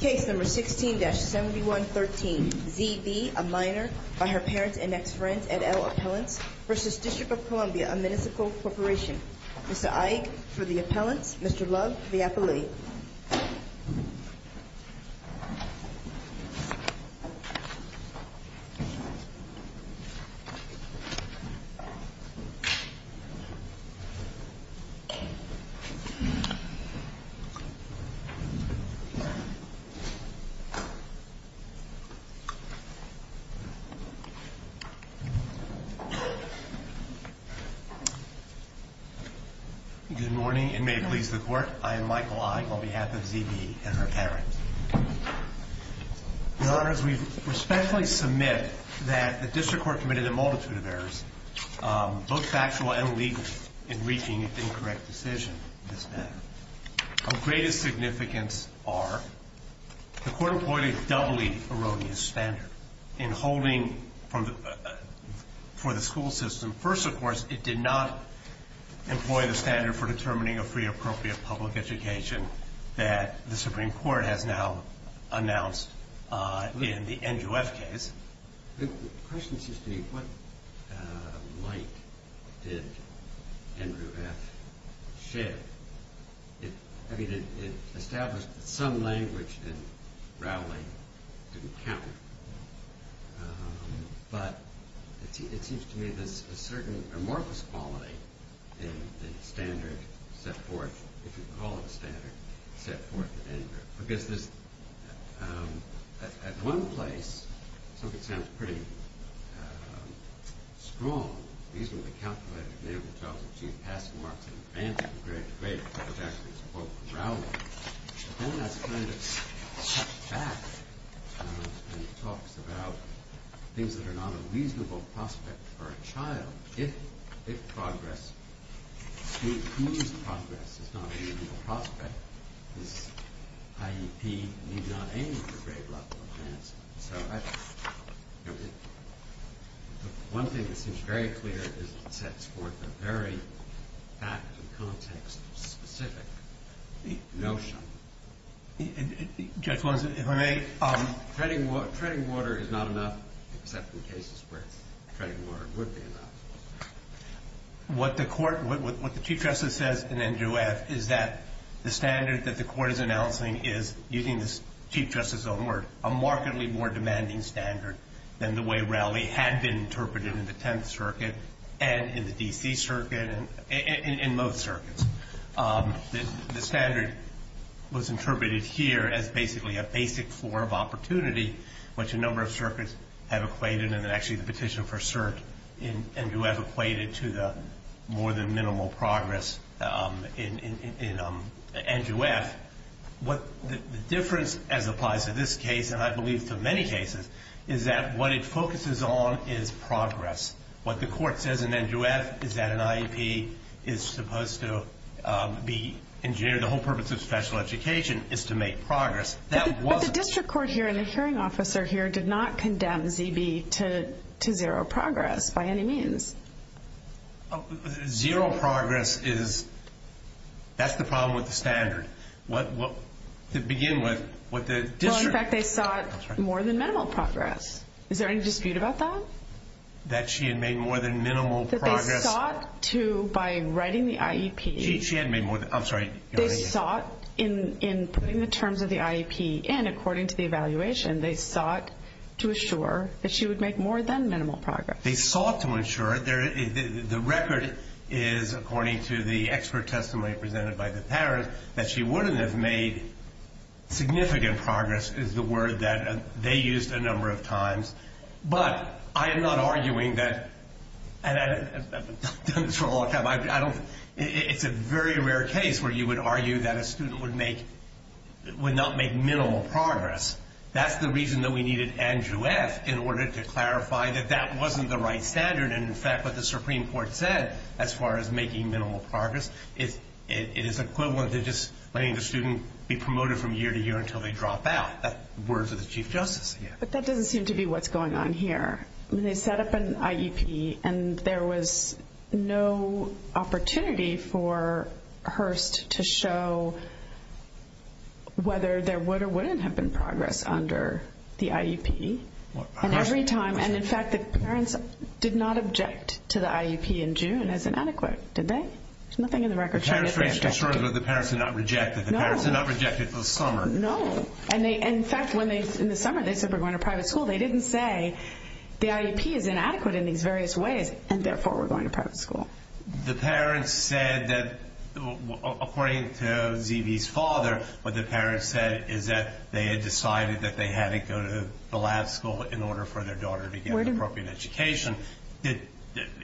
Case No. 16-7113, Z. B., a minor, by her parents and ex-friends, at El Atalan, v. District of Columbia, a municipal corporation. Mr. Ike, for the Atalan. Mr. Love, for the athlete. Good morning, and may it please the Court, I am Michael Ike, on behalf of Z. B. and her parents. In other words, we respectfully submit that the District Court committed a multitude of errors, both factual and legal, in reaching its incorrect decision in this matter. Of greater significance are, the Court employed a doubly erroneous standard in holding for the school system. First, of course, it did not employ the standard for determining a free or appropriate public education that the Supreme Court has now announced in the Andrew F. case. The question should be, what might did Andrew F. share? I mean, it established some language that, probably, didn't count. But, it seems to me that a certain amorphous quality in the standard set forth, if you recall the standard, set forth in Andrew F. Then, that's kind of cut back when he talks about things that are not a reasonable prospect for a child, if it's progress. If he is progress, it's not a reasonable prospect. I.e. he may not aim for great wealth. One thing that seems very clear is that it sets forth a very fact and context specific notion. Judge, if I may, treading water is not enough, except in cases where treading water would be enough. What the court, what the Chief Justice says in Andrew F. is that the standard that the court is announcing is, using the Chief Justice's own words, a markedly more demanding standard than the way Rowley had been interpreted in the Tenth Circuit and in the D.C. Circuit and in most circuits. The standard was interpreted here as basically a basic floor of opportunity, which a number of circuits have equated, and actually the petition for cert in Andrew F. equated to the more than minimal progress in Andrew F. The difference, as applies to this case, and I believe to many cases, is that what it focuses on is progress. What the court says in Andrew F. is that an IEP is supposed to be engineered, the whole purpose of special education is to make progress. But the district court here and the hearing officer here did not condemn ZB to zero progress by any means. Zero progress is, that's the problem with the standard. To begin with, what the district... In fact, they thought more than minimal progress. Is there any dispute about that? That she had made more than minimal progress? They thought to, by writing the IEP... She had made more than, I'm sorry. They thought, in putting the terms of the IEP in according to the evaluation, they thought to assure that she would make more than minimal progress. They thought to ensure, the record is, according to the expert testimony presented by the parents, that she wouldn't have made significant progress, is the word that they used a number of times. But, I am not arguing that... It's a very rare case where you would argue that a student would not make minimal progress. That's the reason that we needed Andrew F. in order to clarify that that wasn't the right standard. And in fact, what the Supreme Court said, as far as making minimal progress, it is equivalent to just letting the student be promoted from year to year until they drop out. That's the words of the Chief Justice. But that doesn't seem to be what's going on here. They set up an IEP and there was no opportunity for Hearst to show whether there would or wouldn't have been progress under the IEP. And every time... And in fact, the parents did not object to the IEP in June as inadequate, did they? There's nothing in the record saying that they objected. The parents were not rejected. No. The parents were not rejected for the summer. No. And in fact, in the summer, they said we're going to private school. They didn't say the IEP is inadequate in these various ways and therefore we're going to private school. The parents said that, according to Z.B.'s father, what the parents said is that they had decided that they had to go to the lab school in order for their daughter to get an appropriate education.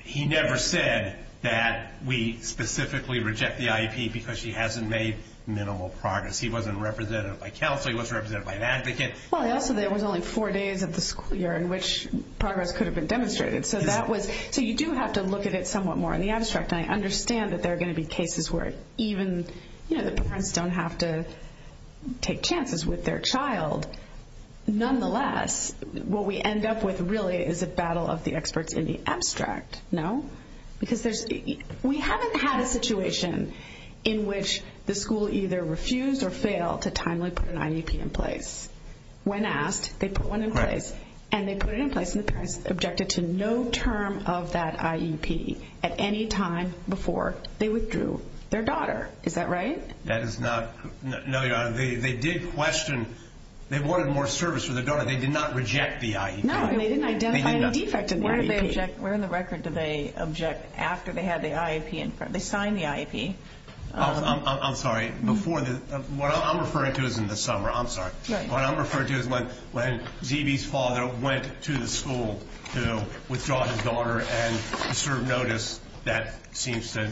He never said that we specifically reject the IEP because she hasn't made minimal progress. He wasn't represented by counsel. He wasn't represented by an advocate. Well, and also there was only four days of the school year in which progress could have been demonstrated. So that was... So you do have to look at it somewhat more in the abstract. And I understand that there are going to be cases where even, you know, the parents don't have to take chances with their child. Nonetheless, what we end up with really is a battle of the experts in the abstract. No? Because we haven't had a situation in which the school either refused or failed to timely put an IEP in place. When asked, they put one in place. And they put it in place and the parents objected to no term of that IEP at any time before they withdrew their daughter. Is that right? That is not... No, Your Honor. They did question. They wanted more service for their daughter. They did not reject the IEP. No, they didn't identify any defect in the IEP. Where in the record did they object after they had the IEP in front? They signed the IEP. I'm sorry. Before the... What I'm referring to is in the summer. I'm sorry. What I'm referring to is when Z.B.'s father went to the school to withdraw his daughter and to serve notice. That seems to...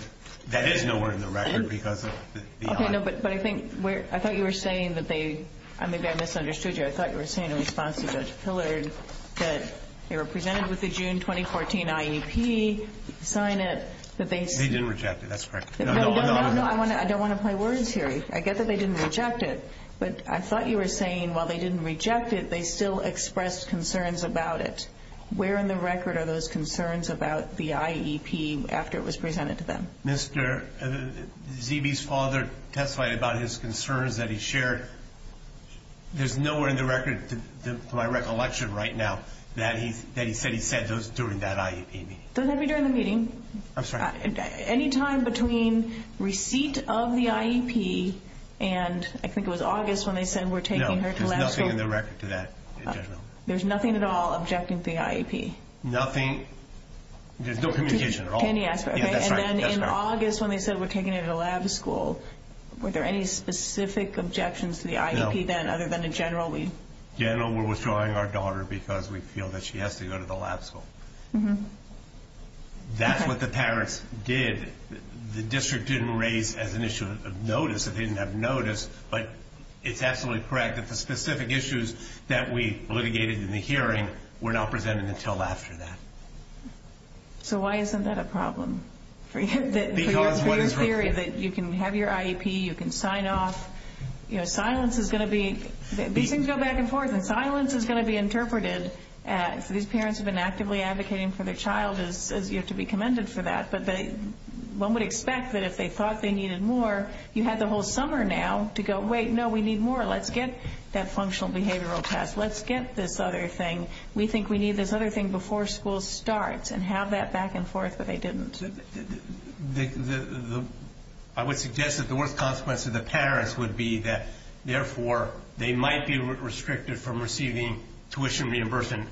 That is nowhere in the record because of the IEP. Okay. No, but I think... I thought you were saying that they... Maybe I misunderstood you. I thought you were saying in response to Judge Pillard that they were presented with the June 2014 IEP, signed it, that they... They did reject it. That's correct. I don't want to play words here. I get that they didn't reject it, but I thought you were saying while they didn't reject it, they still expressed concerns about it. Where in the record are those concerns about the IEP after it was presented to them? Mr. Z.B.'s father testified about his concerns that he shared. There's nowhere in the record, to my recollection right now, that he said those during that IEP meeting. Doesn't have to be during the meeting. I'm sorry. Any time between receipt of the IEP and I think it was August when they said we're taking her to... No, there's nothing in the record to that. There's nothing at all objecting to the IEP. Nothing. There's no communication at all. Any aspect. And then in August when they said we're taking her to the lab school, were there any specific objections to the IEP then other than in general? In general, we're withdrawing our daughter because we feel that she has to go to the lab school. That's what the parents did. The district didn't raise as an issue of notice. They didn't have notice, but it's absolutely correct that the specific issues that we litigated in the hearing were not presented until after that. So why isn't that a problem for your theory that you can have your IEP, you can sign off? You know, silence is going to be... These things go back and forth. And silence is going to be interpreted as these parents have been actively advocating for the child. You have to be commended for that. But one would expect that if they thought they needed more, you have the whole summer now to go, wait, no, we need more. Let's get that functional behavioral test. Let's get this other thing. We think we need this other thing before school starts and have that back and forth, but they didn't. I would suggest that the worst consequence to the parents would be that, therefore, they might be restricted from receiving tuition reimbursement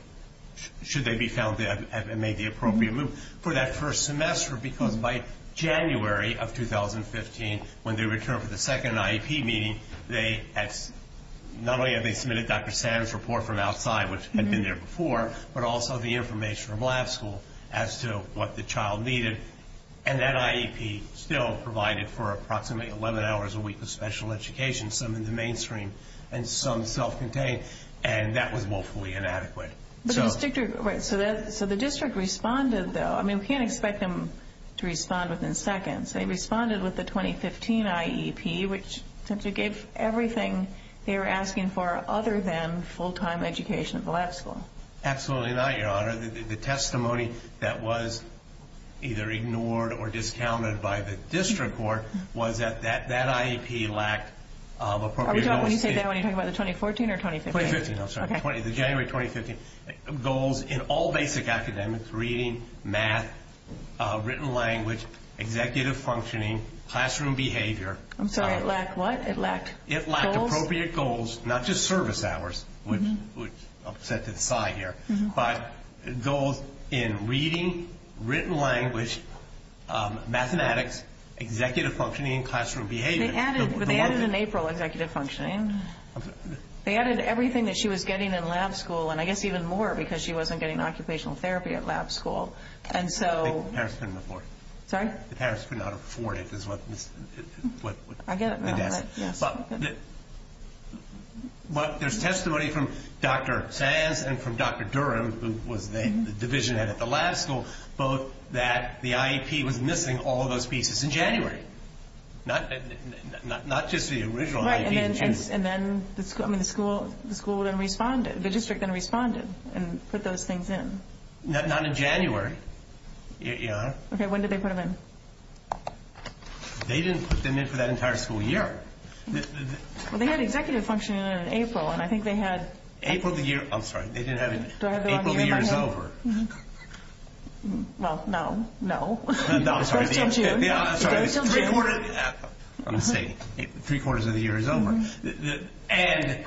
should they be found to have made the appropriate move for that first semester because by January of 2015, when they returned from the second IEP meeting, not only had they submitted Dr. Stanton's report from outside, which had been there before, but also the information from lab school as to what the child needed. And that IEP still provided for approximately 11 hours a week of special education, some in the mainstream and some self-contained, and that was woefully inadequate. So the district responded, though. I mean, we can't expect them to respond within seconds. They responded with the 2015 IEP, which, since it gave everything they were asking for other than full-time education at the lab school. Absolutely not, Your Honor. The testimony that was either ignored or discounted by the district court was that that IEP lacked appropriate... Are you talking about the 2014 or 2015? 2015, I'm sorry. Okay. ...goals in all basic academics, reading, math, written language, executive functioning, classroom behavior. I'm sorry. It lacked what? It lacked goals? It lacked appropriate goals, not just service hours, which I'll set to the side here, but goals in reading, written language, mathematics, executive functioning, and classroom behavior. They added an April executive functioning. They added everything that she was getting in lab school, and I guess even more because she wasn't getting occupational therapy at lab school. And so... The parents couldn't afford it. Sorry? The parents couldn't afford it is what... I get it now. But there's testimony from Dr. Sands and from Dr. Durham, who was the division head at the lab school, both that the IEP was missing all those pieces in January, not just the original IEP. Right. And then the school then responded. The district then responded and put those things in. Not in January. Okay. When did they put them in? They didn't put them in for that entire school year. They had executive functioning in April, and I think they had... April of the year... I'm sorry. They didn't have... Well, no. No. No, I'm sorry. Yeah, I'm sorry. Three-quarters of the year is over. And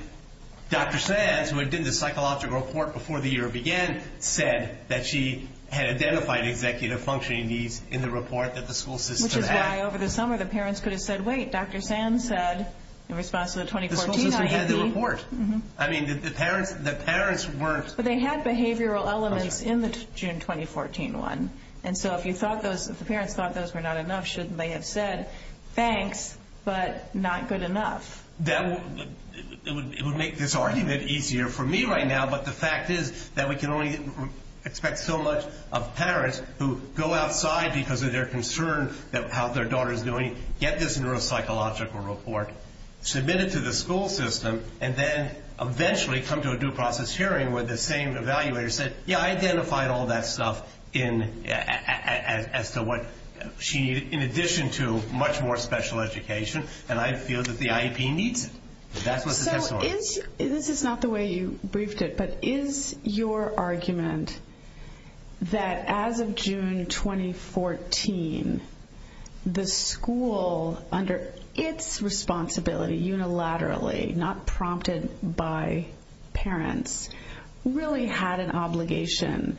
Dr. Sands, who had done the psychological report before the year began, said that she had identified executive functioning needs in the report that the school system had. Which is why, over the summer, the parents could have said, wait, Dr. Sands said, in response to the 2014 IEP... The school system had the report. I mean, the parents were... But they had behavioral elements in the June 2014 one. And so if the parents thought those were not enough, shouldn't they have said, thanks, but not good enough? It would make this argument easier for me right now, but the fact is that we can only expect so much of parents who go outside because of their concerns about how their daughter is doing, get this neuropsychological report, submit it to the school system, and then eventually come to a due process hearing where the same evaluator said, yeah, I identified all that stuff as to what she needed, in addition to much more special education, and I feel that the IEP needs it. That's what the text was. This is not the way you briefed it, but is your argument that as of June 2014, the school, under its responsibility unilaterally, not prompted by parents, really had an obligation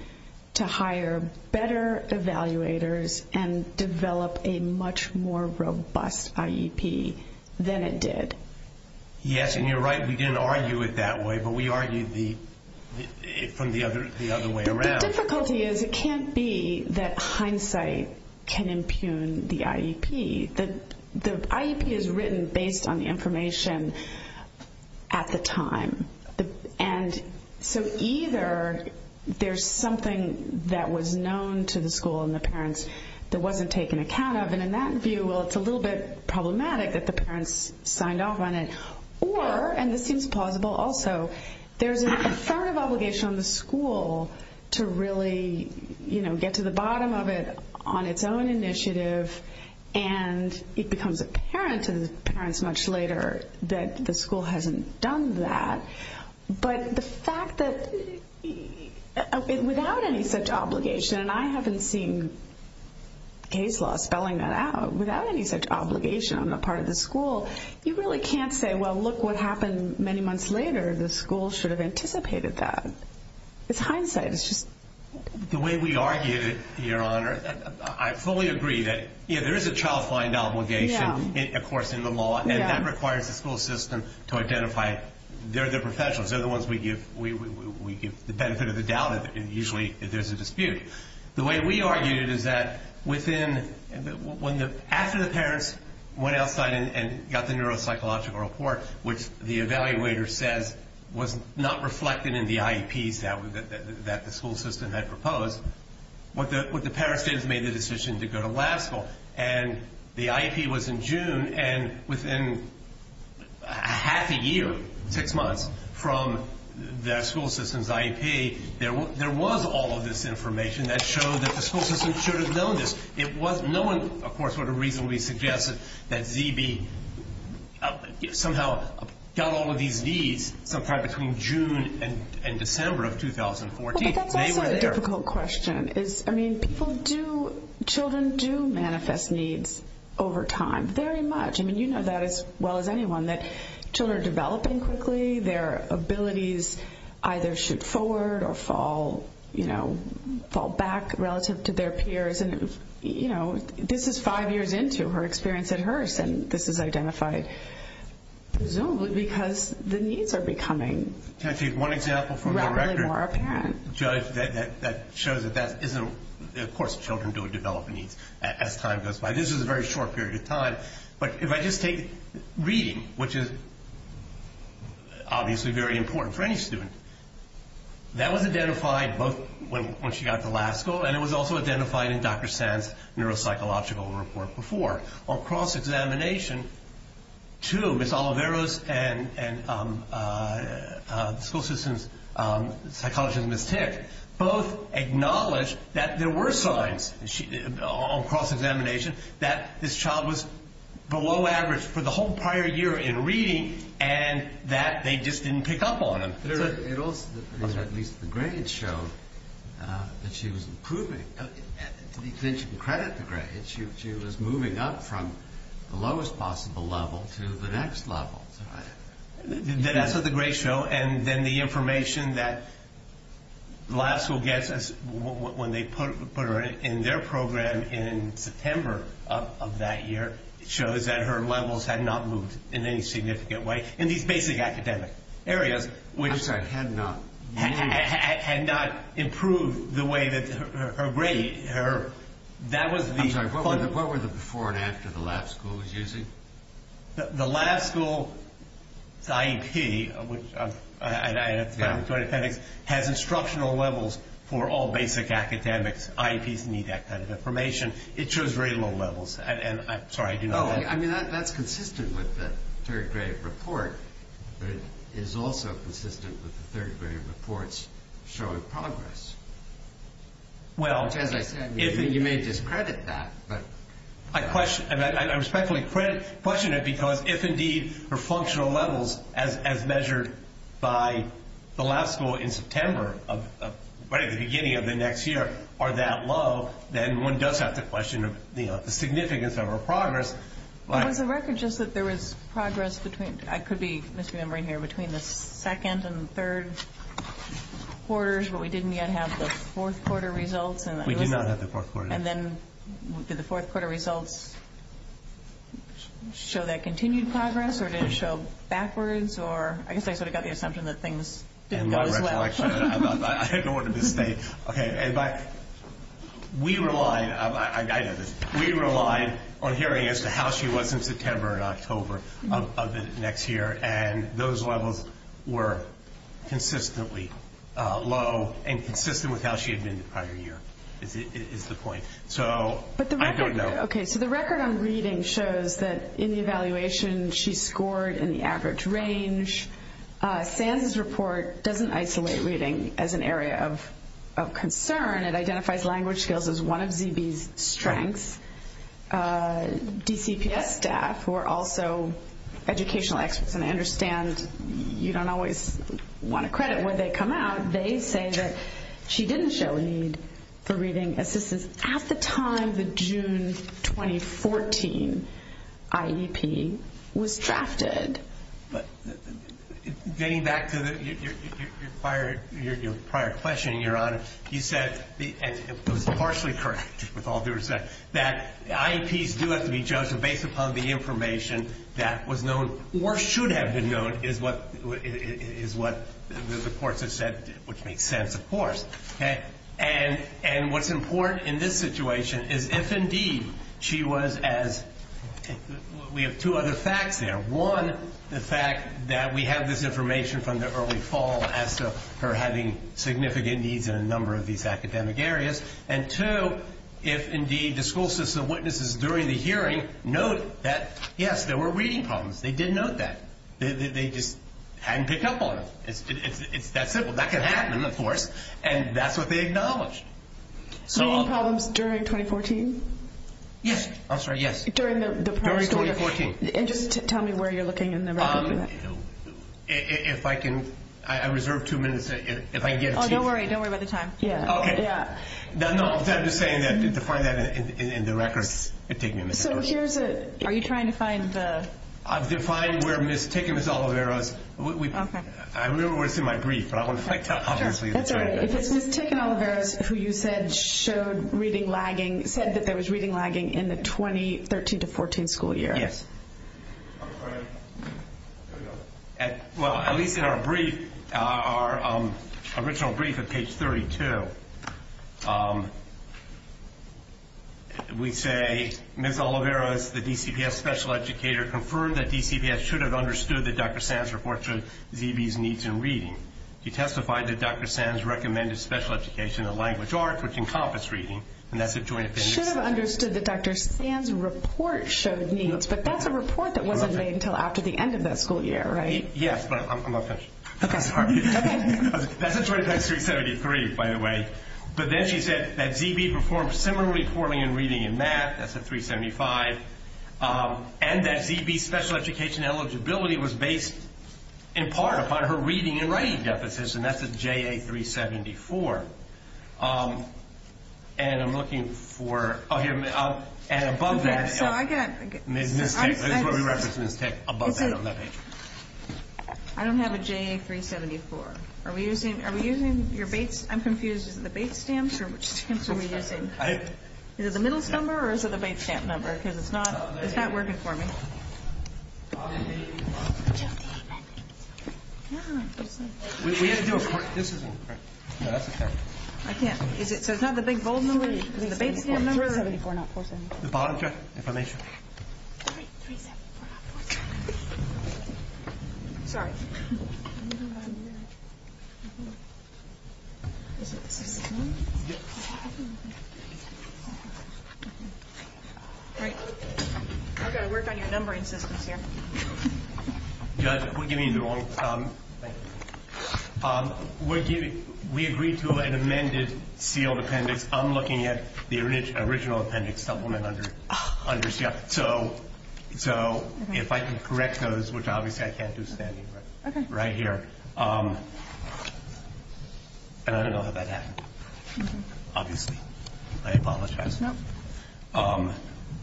to hire better evaluators and develop a much more robust IEP than it did? Yes, and you're right. We didn't argue it that way, but we argued it from the other way around. The difficulty is it can't be that hindsight can impugn the IEP. The IEP is written based on the information at the time, and so either there's something that was known to the school and the parents that wasn't taken account of, and in that view, well, it's a little bit problematic that the parents signed off on it, or, and this seems plausible also, there's a concern of obligation on the school to really, you know, get to the bottom of it on its own initiative, and it becomes apparent to the parents much later that the school hasn't done that, but the fact that without any such obligation, and I haven't seen Hazelot spelling that out, without any such obligation on the part of the school, you really can't say, well, look what happened many months later. The school should have anticipated that. It's hindsight. The way we argued it, Your Honor, I fully agree that, you know, there is a child-finding obligation, of course, in the law, and that requires the school system to identify their professionals. They're the ones we give the benefit of the doubt, and usually there's a dispute. The way we argued is that within, when the, after the parents went outside and got the neuropsychological report, which the evaluator said was not reflected in the IEPs that the school system had proposed, what the parents did is made the decision to go to Lascaux, and the IEP was in June, and within half a year, six months, from the school system's IEP, there was all of this information that showed that the school system should have known this. It was knowing, of course, what a reason we suggest that ZB somehow got all of these needs, compared to come June and December of 2014. That's a difficult question. I mean, people do, children do manifest needs over time, very much. I mean, you know that as well as anyone, that children are developing quickly. Their abilities either shoot forward or fall, you know, fall back relative to their peers. And, you know, this is five years into her experience at Hearst, and this is identified presumably because the needs are becoming rather more apparent. Can I take one example from the record? Judge, that shows that that isn't, of course, children do develop needs as time goes by. This is a very short period of time. But if I just take reading, which is obviously very important for any student, that was identified both when she got to Lascaux, and it was also identified in Dr. Sands' neuropsychological report before. On cross-examination, too, Ms. Oliveros and the school system's psychologist, Ms. Tick, both acknowledged that there were signs on cross-examination that this child was below average for the whole prior year in reading and that they just didn't pick up on it. At least the grades showed that she was improving. And then she could credit the grades. She was moving up from the lowest possible level to the next level. That was a great show, and then the information that Lascaux gets when they put her in their program in September of that year shows that her levels had not moved in any significant way in these basic academic areas. I'm sorry, had not moved. Had not improved the way that her grades, that was the point. I'm sorry, what were the before and after the Lascaux was using? The Lascaux IEP has instructional levels for all basic academics. IEPs need that kind of information. It shows reasonable levels. I'm sorry, I didn't know that. That's consistent with the third grade report, but it is also consistent with the third grade report's show of progress. Well, you may discredit that. I respectfully question it because if indeed her functional levels, as measured by the Lascaux in September right at the beginning of the next year, are that low, then one does have to question the significance of her progress. There was a record just that there was progress between, I could be misremembering here, between the second and third quarters, but we didn't yet have the fourth quarter results. We did not have the fourth quarter. And then did the fourth quarter results show that continued progress or did it show backwards? I guess I sort of got the assumption that things didn't go as well. My recollection, I don't want to misstate, but we relied on hearing as to how she was in September and October of this next year, and those levels were consistently low and consistent with how she had been the prior year is the point. So I don't know. Okay, so the record on reading shows that in the evaluation, she scored in the average range. SAM's report doesn't isolate reading as an area of concern. It identifies language skills as one of ZB's strengths. DCPS staff, who are also educational experts, and I understand you don't always want to credit when they come out, they say that she didn't show a need for reading as this is at the time the June 2014 IEP was drafted. Getting back to your prior question, Your Honor, you said, and it was partially correct with all due respect, that IEPs do have to be judged based upon the information that was known or should have been known is what the courts have said, which makes sense, of course. And what's important in this situation is if indeed she was as we have two other facts there. One, the fact that we have this information from the early fall as to her having significant needs in a number of these academic areas, and two, if indeed the school system witnesses during the hearing note that, yes, there were reading problems. They did note that. They just hadn't picked up on it. That's simple. That could happen, of course, and that's what they acknowledged. Reading problems during 2014? Yes. I'm sorry, yes. During the process. During 2014. And just tell me where you're looking in the record for that. If I can, I reserve two minutes. Oh, don't worry. Don't worry about the time. Okay. No, no, I'm just saying that to find that in the record. So here's a, are you trying to find the? To find where Ms. Tick and Ms. Olivera's. I remember where it's in my brief, but I want to check that obviously. Okay. Is it Ms. Tick and Olivera's who you said showed reading lagging, said that there was reading lagging in the 2013 to 2014 school year? Yes. Well, at least in our brief, our original brief at page 32, we say Ms. Olivera, the DCPS special educator, confirmed that DCPS should have understood that Dr. Sam's report showed DB's needs in reading. She testified that Dr. Sam's recommended special education in language art was encompassed reading, and that's a joint statement. Should have understood that Dr. Sam's report showed needs. But that's a report that wasn't made until after the end of that school year, right? Yes, but I'm not finished. Okay. That's a 373, by the way. But then she said that DB performed similarly poorly in reading and math. That's a 375. And that DB's special education eligibility was based in part upon her reading and writing deficit, and that's a JA 374. And I'm looking for, and above that. I don't have a JA 374. Are we using your base? I'm confused. Is it the base stamps? Is it the middle number or is it the base stamp number? Because it's not working for me. We're going to do a question. This is a question. I can't. Is it, does it have the big bold number or is it the base stamp number? The bottom, yes. Information. 375. Sorry. Is it 375? Yes. Okay. We're going to work on your numbering system here. Just, we'll give you a moment. Thank you. We agreed to an amended seal appendix. I'm looking at the original appendix supplement under seal. So if I can correct those, which obviously I can't do standing right here. Okay. I don't know how that happened. Obviously. I apologize. No.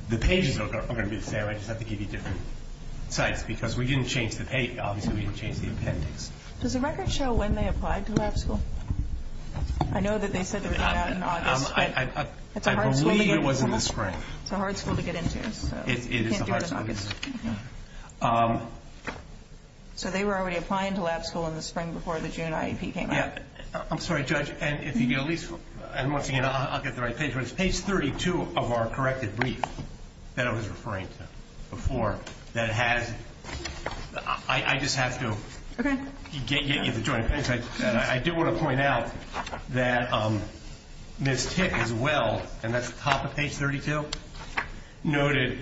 The pages are going to be there. I just have to give you different types because we didn't change the page. Obviously, we didn't change the appendix. Does the record show when they applied to lab school? I know that they said they were going to have an audit. I believe it was in the spring. It's a hard school to get into. It is a hard school to get into. So they were already applying to lab school in the spring before the June IEP came out? Yes. I'm sorry, Judge. I'm looking at it. I'll get the right page. Page 32 of our corrected brief that I was referring to before that had, I just have to get you the joint appendix. I did want to point out that Ms. Tick, as well, and that's the top of page 32, noted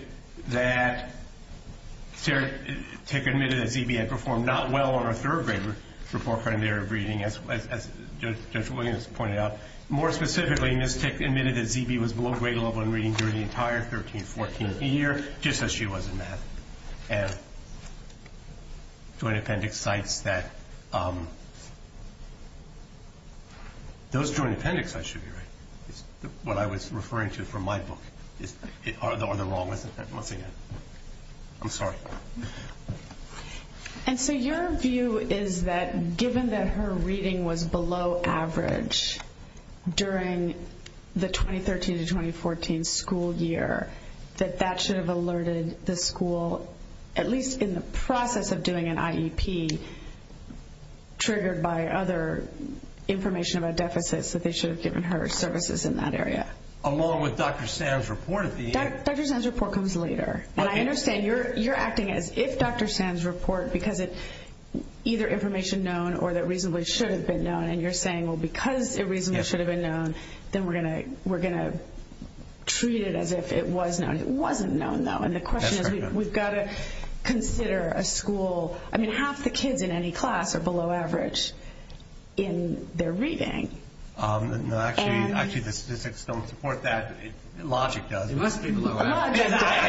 that Sarah Tick admitted that D.B. had performed not well on her third grade report prior to her reading, as Judge Williams pointed out. More specifically, Ms. Tick admitted that D.B. was below grade level in reading during the entire 13-14 year, just as she was in math. And the joint appendix cites that. Those joint appendix should be right. What I was referring to from my book. Or the wrong appendix. I'm looking at it. I'm sorry. And so your view is that given that her reading was below average during the 2013-2014 school year, that that should have alerted the school, at least in the process of doing an IEP, triggered by other information about deficits, that they should have given her services in that area? Along with Dr. Sam's report. Dr. Sam's report comes later. And I understand you're acting as if Dr. Sam's report, because it's either information known or that reasonably should have been known, and you're saying, well, because it reasonably should have been known, then we're going to treat it as if it was known. It wasn't known, though. And the question is we've got to consider a school. I mean, half the kids in any class are below average in their reading. No, actually, the statistics don't support that. Logic does. I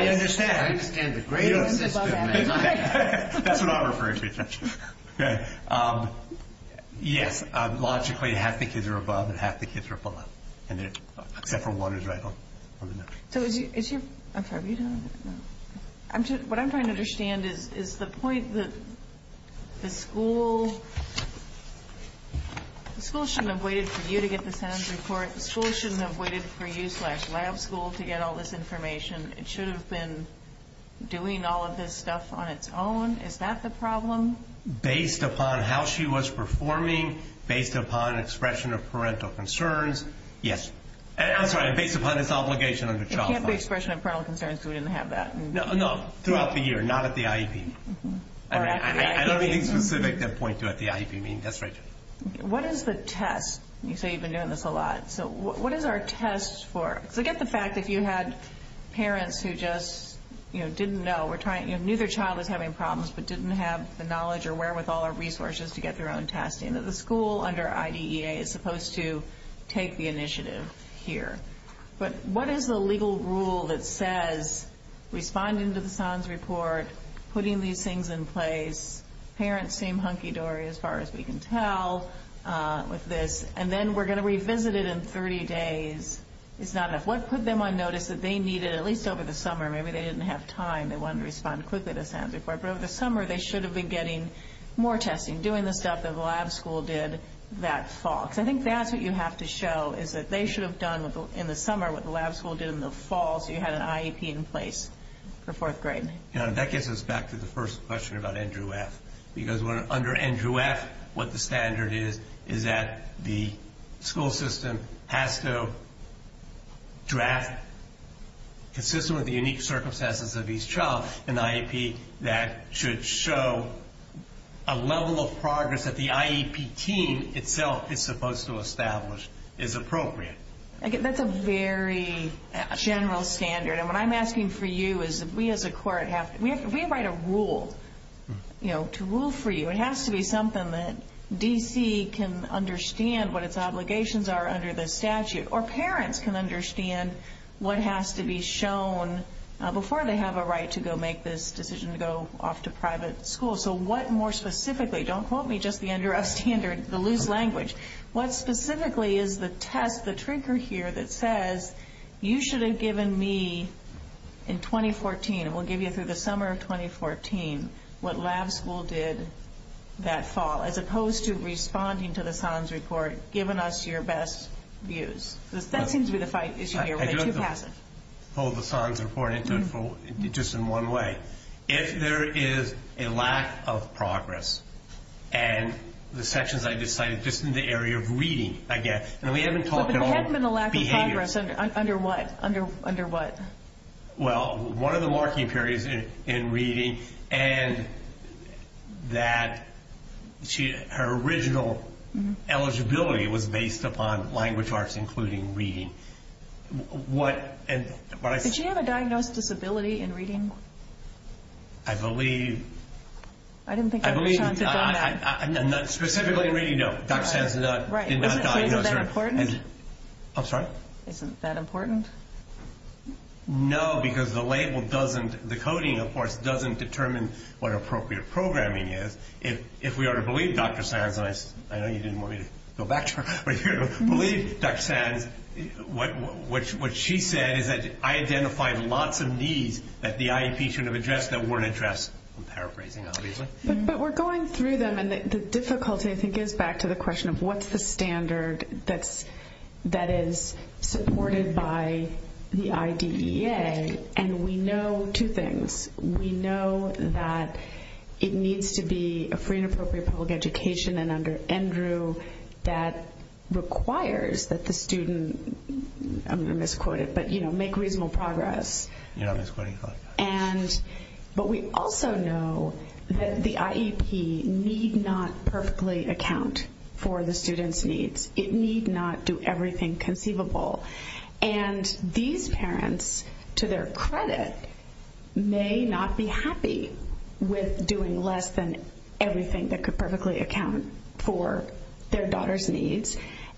understand. That's what I'm referring to, essentially. Yes, logically, half the kids are above and half the kids are below. Except for one is right below average. Okay. What I'm trying to understand is the point that the school shouldn't have waited for you to get the Sam's report. The school shouldn't have waited for you slash lab school to get all this information. It should have been doing all of this stuff on its own. Is that the problem? Based upon how she was performing, based upon expression of parental concerns, yes. I'm sorry, based upon its obligation under child law. It can't be expression of parental concerns, so we're going to have that. No, throughout the year, not at the IEP. I don't need to make that point at the IEP meeting. That's right. What is the test? You say you've been doing this a lot. So what is our test for? Because I get the fact that you had parents who just, you know, didn't know. Neither child was having problems but didn't have the knowledge or wherewithal or resources to get their own testing. The school under IDEA is supposed to take the initiative here. But what is the legal rule that says responding to the Sam's report, putting these things in place, parents seem hunky-dory as far as we can tell with this, and then we're going to revisit it in 30 days. It's not enough. What put them on notice that they needed, at least over the summer, maybe they didn't have time, they wanted to respond quickly to Sam's report. But over the summer, they should have been getting more testing, doing the stuff that the lab school did that fall. So I think that's what you have to show is that they should have done in the summer what the lab school did in the fall so you had an IEP in place for fourth grade. That gets us back to the first question about NQS. Because under NQS, what the standard is is that the school system has to draft, consistent with the unique circumstances of each child, an IEP that should show a level of progress that the IEP team itself is supposed to establish is appropriate. That's a very general standard. And what I'm asking for you is if we as a court have to, we invite a rule, you know, to rule for you. It has to be something that DC can understand what its obligations are under the statute, or parents can understand what has to be shown before they have a right to go make this decision to go off to private school. So what more specifically, don't quote me, just the loose language. What specifically is the test, the trigger here that says you should have given me in 2014, we'll give you through the summer of 2014, what lab school did that fall, as opposed to responding to the SONS report, giving us your best views. That seems to be the issue here. I do have to pull the SONS report into it just in one way. If there is a lack of progress, and the sections I just cited, just in the area of reading, I guess, and we haven't talked at all about behavior. There hasn't been a lack of progress under what? Well, one of the marking periods in reading, and that her original eligibility was based upon language arts, including reading. Did you have a diagnosed disability in reading? I believe. I didn't think that was counted. Specifically in reading, no. Is that important? I'm sorry? Is that important? No, because the coding, of course, doesn't determine what appropriate programming is. If we are to believe Dr. Sarah Glenn, I know you didn't want me to go back to her, but believe Dr. Sand, what she said is that I identified lots of needs that the IEP shouldn't have addressed that weren't addressed with paraphrasing, obviously. But we're going through them, and the difficulty, I think, is back to the question of what's the standard that is supported by the IDEA? And we know two things. We know that it needs to be a free and appropriate public education, and under Andrew, that requires that the student, I'm going to misquote it, but, you know, make reasonable progress. Yeah, I'm misquoting that. But we also know that the IEP need not perfectly account for the student's needs. It need not do everything conceivable. And these parents, to their credit, may not be happy with doing less than everything that could perfectly account for their daughter's needs,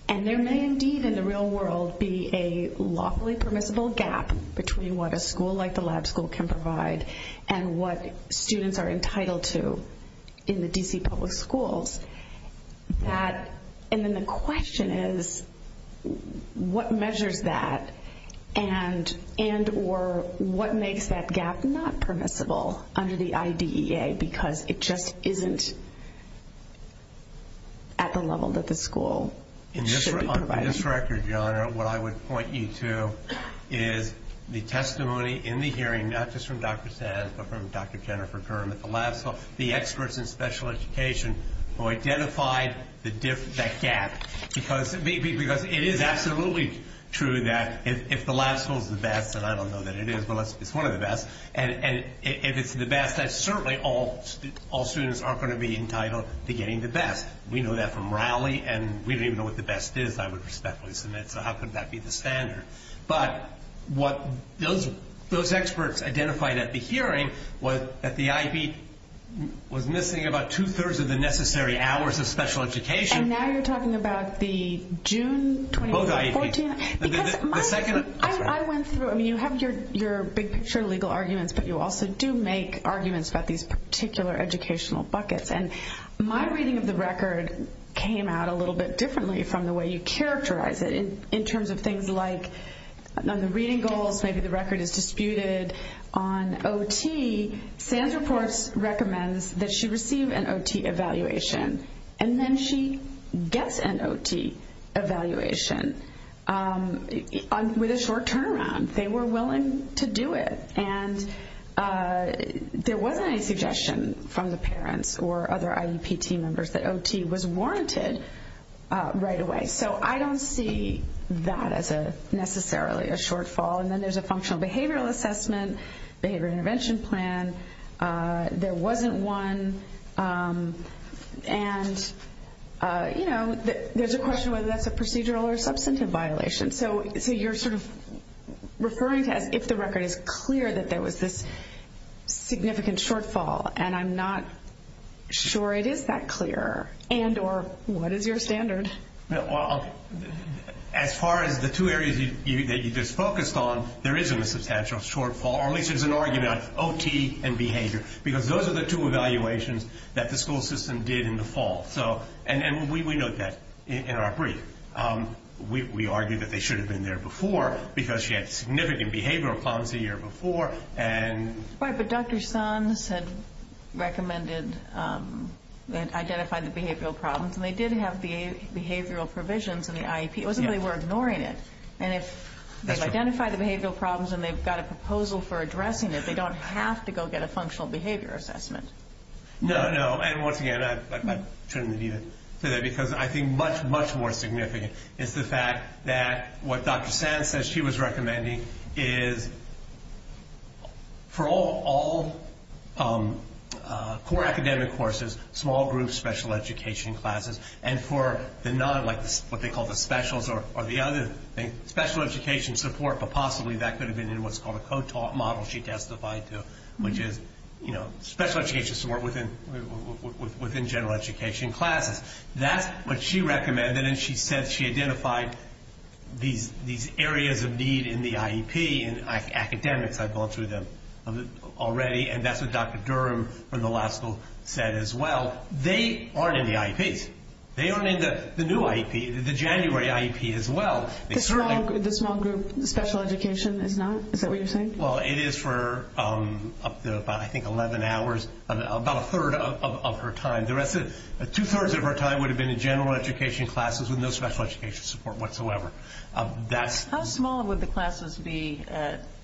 and there may indeed in the real world be a lawfully permissible gap between what a school like the lab school can provide and what students are entitled to in the D.C. public schools. And then the question is, what measures that? And or what makes that gap not permissible under the IDEA? Because it just isn't at the level that the school should provide. On this record, your Honor, what I would point you to is the testimony in the hearing, not just from Dr. Sands, but from Dr. Jennifer Durham at the lab school, the experts in special education who identified that gap. Because it is absolutely true that if the lab school is the best, and I don't know that it is, but it's one of the best, and if it's the best, then certainly all students aren't going to be entitled to getting the best. We know that from Raleigh, and we don't even know what the best is, so how could that be the standard? But what those experts identified at the hearing was that the IEP was missing about two-thirds of the necessary hours of special education. And now you're talking about the June 2014? I went through, I mean, you have your big picture legal arguments, but you also do make arguments about these particular educational buckets. And my reading of the record came out a little bit differently from the way you characterize it in terms of things like on the reading goals, maybe the record is disputed. On OT, Sands, of course, recommends that she receive an OT evaluation, and then she gets an OT evaluation with a short turnaround. They were willing to do it, and there wasn't any suggestion from the parents or other IEP team members that OT was warranted right away. So I don't see that as necessarily a shortfall. And then there's a functional behavioral assessment, behavioral intervention plan. There wasn't one. And, you know, there's a question whether that's a procedural or substantive violation. So you're sort of referring to if the record is clear that there was this significant shortfall, and I'm not sure it is that clear, and or what is your standard? As far as the two areas that you just focused on, there isn't a substantial shortfall, or at least there's an argument on OT and behavior, because those are the two evaluations that the school system did in the fall. And we note that in our brief. We argue that they should have been there before, because she had significant behavioral problems the year before. Right, but Dr. Sands had recommended and identified the behavioral problems, and they did have behavioral provisions in the IEP. It wasn't that they were ignoring it. And if they've identified the behavioral problems and they've got a proposal for addressing it, they don't have to go get a functional behavior assessment. No, no, and once again, I couldn't agree to that, because I think much, much more significant is the fact that what Dr. Sands says she was recommending is for all core academic courses, small groups, special education classes, and for the non, like what they call the specials or the other things, special education support, but possibly that could have been in what's called a co-taught model she testified to, which is, you know, special education support within general education classes. That's what she recommended, and she said she identified these areas of need in the IEP, and academics, I've gone through them already, and that's what Dr. Durham from the law school said as well. They aren't in the IEP. They aren't in the new IEP, the January IEP as well. The small group special education is not? Is that what you're saying? Well, it is for up to about, I think, 11 hours, about a third of her time. Two-thirds of her time would have been in general education classes with no special education support whatsoever. How small would the classes be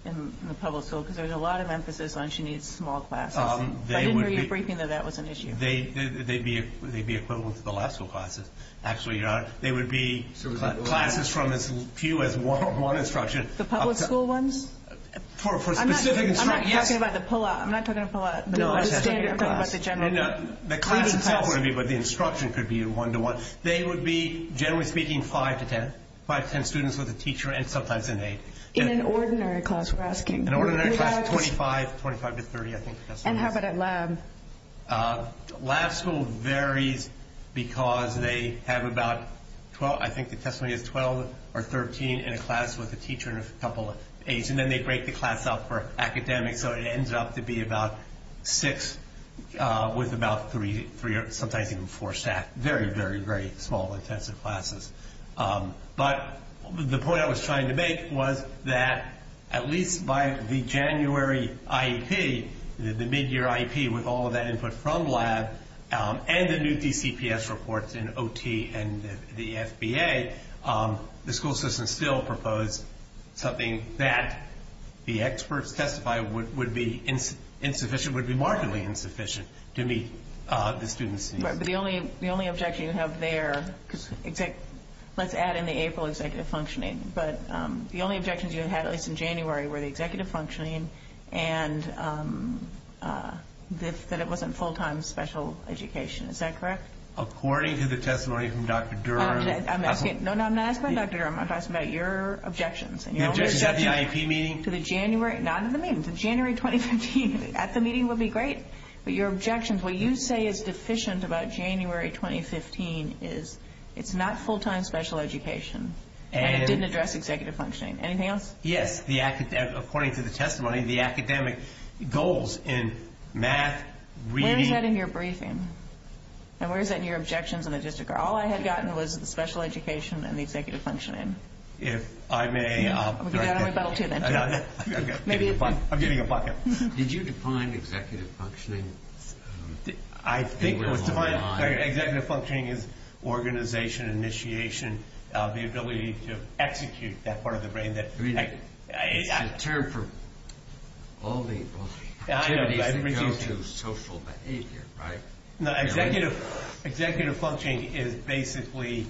in the public school? There's a lot of emphasis on she needs small classes. I didn't know you were thinking that that was an issue. They'd be equivalent to the law school classes. Actually, they would be classes from as few as one instruction. The public school ones? I'm not talking about the pull-out. I'm not talking about the standard class. The instruction could be one-to-one. They would be, generally speaking, five to ten. Five to ten students with a teacher and sometimes an aide. In an ordinary class, we're asking? In an ordinary class, 25 to 30, I think. And how about at lab? Lab schools vary because they have about 12, I think, a testimony of 12 or 13 in a class with a teacher and a couple of aides. And then they break the class up for academics, so it ends up to be about six with about three or sometimes even four staff. Very, very, very small intensive classes. But the point I was trying to make was that at least by the January IEP, the mid-year IEP with all of that input from labs and the new CCPS reports in OT and the SBA, the school system still proposed something that the experts testified would be insufficient, would be marginally insufficient to meet the students' needs. But the only objection you have there, let's add in the April executive functioning, but the only objections you had, at least in January, were the executive functioning and that it wasn't full-time special education. Is that correct? According to the testimony from Dr. Durham. No, I'm not asking about Dr. Durham. I'm asking about your objections. Is that the IEP meeting? To the January? Not in the meeting. The January 2017 meeting. At the meeting would be great. But your objections, what you say is deficient about January 2015 is it's not full-time special education and it didn't address executive functioning. Anything else? Yes. According to the testimony, the academic goals in math, reading. Any of that in your briefing. And where is that in your objections on the district? All I had gotten was the special education and the executive functioning. If I may. I'm getting a bucket. Did you define executive functioning? I think executive functioning is organization, initiation, the ability to execute that part of the brain. The term for all the social behavior, right? Executive functioning is basically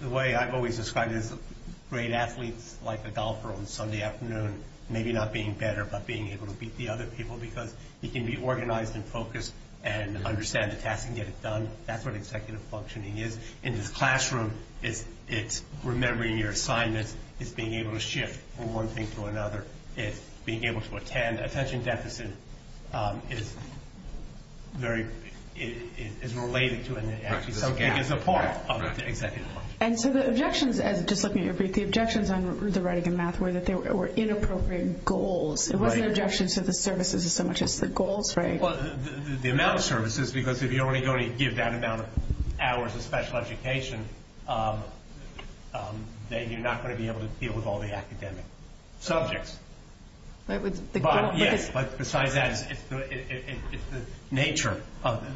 the way I've always described it. Great athletes like a golfer on Sunday afternoon, maybe not being better, but being able to beat the other people. You can be organized and focused and understand the task and get it done. That's what executive functioning is. In the classroom, it's remembering your assignments. It's being able to shift from one thing to another. It's being able to attend. Attention deficit is related to executive functioning. The objections on the writing in math were that there were inappropriate goals. What are the objections to the services as much as the goals, right? The amount of services, because if you already give that amount of hours of special education, then you're not going to be able to deal with all the academic subjects. But besides that, it's the nature,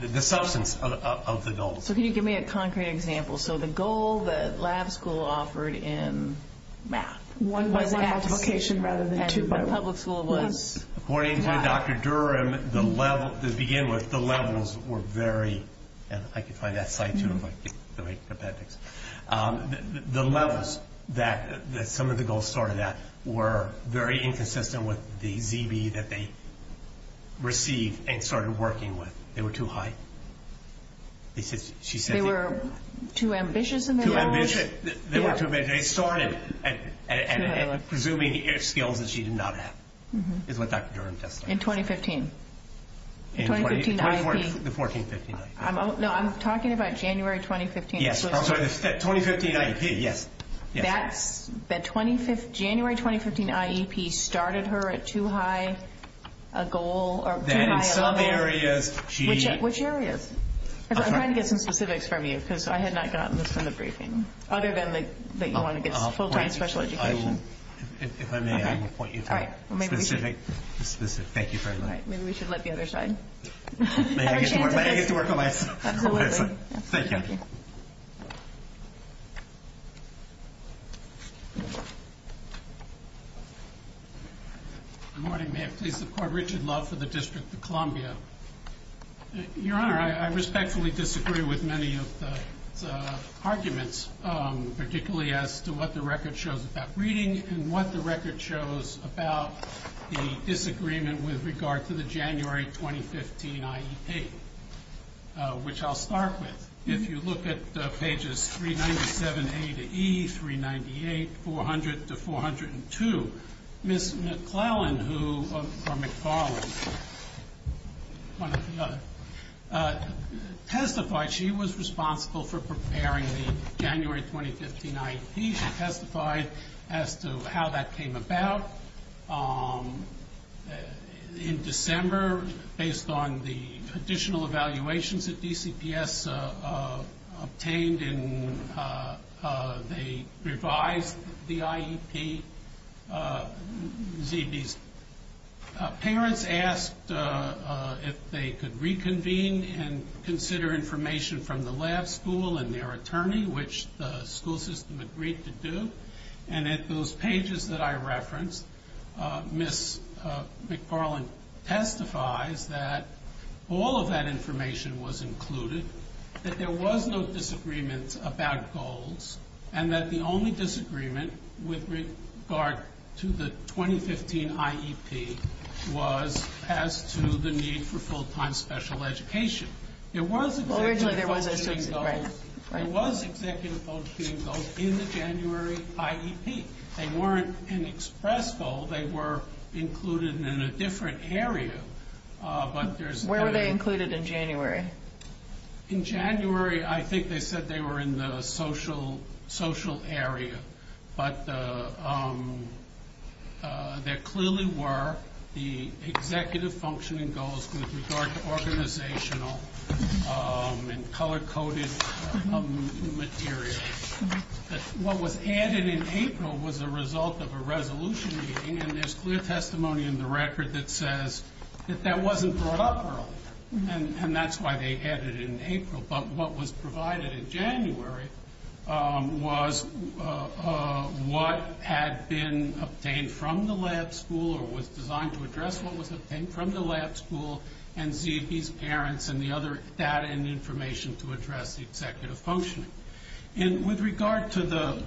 the substance of the goals. So can you give me a concrete example? So the goal that lab school offered in math. One multiplication rather than two. Public school was math. According to Dr. Durham, the levels were very, I can find that slide too. The levels that some of the goals started at were very inconsistent with the ZB that they received and started working with. They were too high. They were too ambitious? Too ambitious. They saw it and presuming skills that she did not have. In 2015. The 2014-15. I'm talking about January 2015. Yes. 2015 IEP. Yes. The January 2015 IEP started her at too high a goal. Which areas? I'm trying to get some specifics from you because I had not gotten this kind of briefing. Other than that you want to get full-time special education. If I may, I will point you to that. Thank you very much. Maybe we should let the other side. I can't hear you. I have a microphone. Go ahead. Thank you. Good morning. Richard Love. District of Columbia. Your honor, I respectfully disagree with many of the arguments. Particularly as to what the record shows about reading and what the record shows about the disagreement with regard to the January 2015 IEP. Which I'll start with. If you look at pages 397A to E, 398, 400 to 402, Ms. McClellan who was from McFarland testified she was responsible for preparing the January 2015 IEP. She testified as to how that came about. In December, based on the additional evaluations that DCPS obtained, they revised the IEP. Parents asked if they could reconvene and consider information from the lab school and their attorney, which the school system agreed to do. And at those pages that I referenced, Ms. McFarland testified that all of that information was included. That there was no disagreement about goals. And that the only disagreement with regard to the 2015 IEP was as to the need for full-time special education. There was executive functioning goals in the January IEP. They weren't an express goal. They were included in a different area. Where were they included in January? In January, I think they said they were in the social area. But there clearly were the executive functioning goals with regard to organizational and color-coded materials. What was added in April was a result of a resolution being in this clear testimony in the record that says that that wasn't brought up for us. And that's why they added it in April. But what was provided in January was what had been obtained from the lab school or was designed to address what was obtained from the lab school and see if these parents and the other data and information to address the executive functioning. With regard to the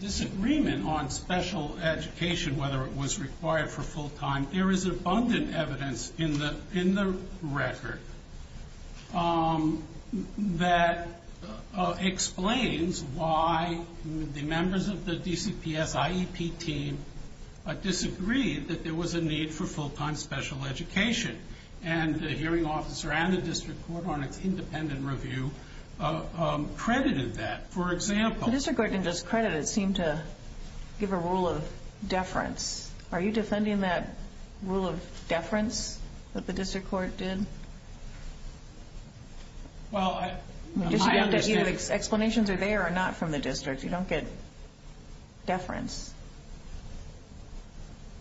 disagreement on special education, whether it was required for full-time, there is abundant evidence in the record. That explains why the members of the DCPS IEP team disagreed that there was a need for full-time special education. And the hearing officer and the district court on an independent review credited that. For example... The district court didn't just credit it. It seemed to give a rule of deference. Are you defending that rule of deference that the district court did? Well, I... I understand... Explanations are there or not from the district. You don't get deference.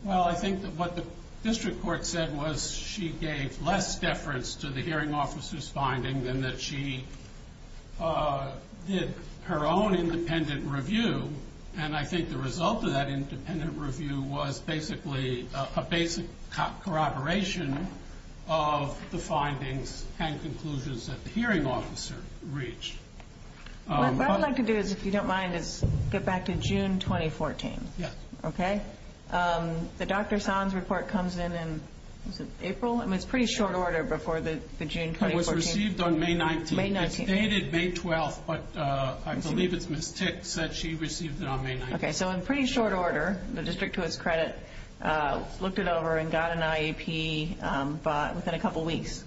Well, I think that what the district court said was she gave less deference to the hearing officer's finding than that she did her own independent review. And I think the result of that independent review was basically a basic corroboration of the findings and conclusions that the hearing officer reached. What I'd like to do, if you don't mind, is get back to June 2014. Yes. Okay? The Dr. Sands report comes in in April. It was a pretty short order before the June 2014... It was received on May 19th. May 19th. It was dated May 12th, but I believe it was ticked that she received it on May 19th. Okay. So in pretty short order, the district to its credit looked it over and got an IEP within a couple weeks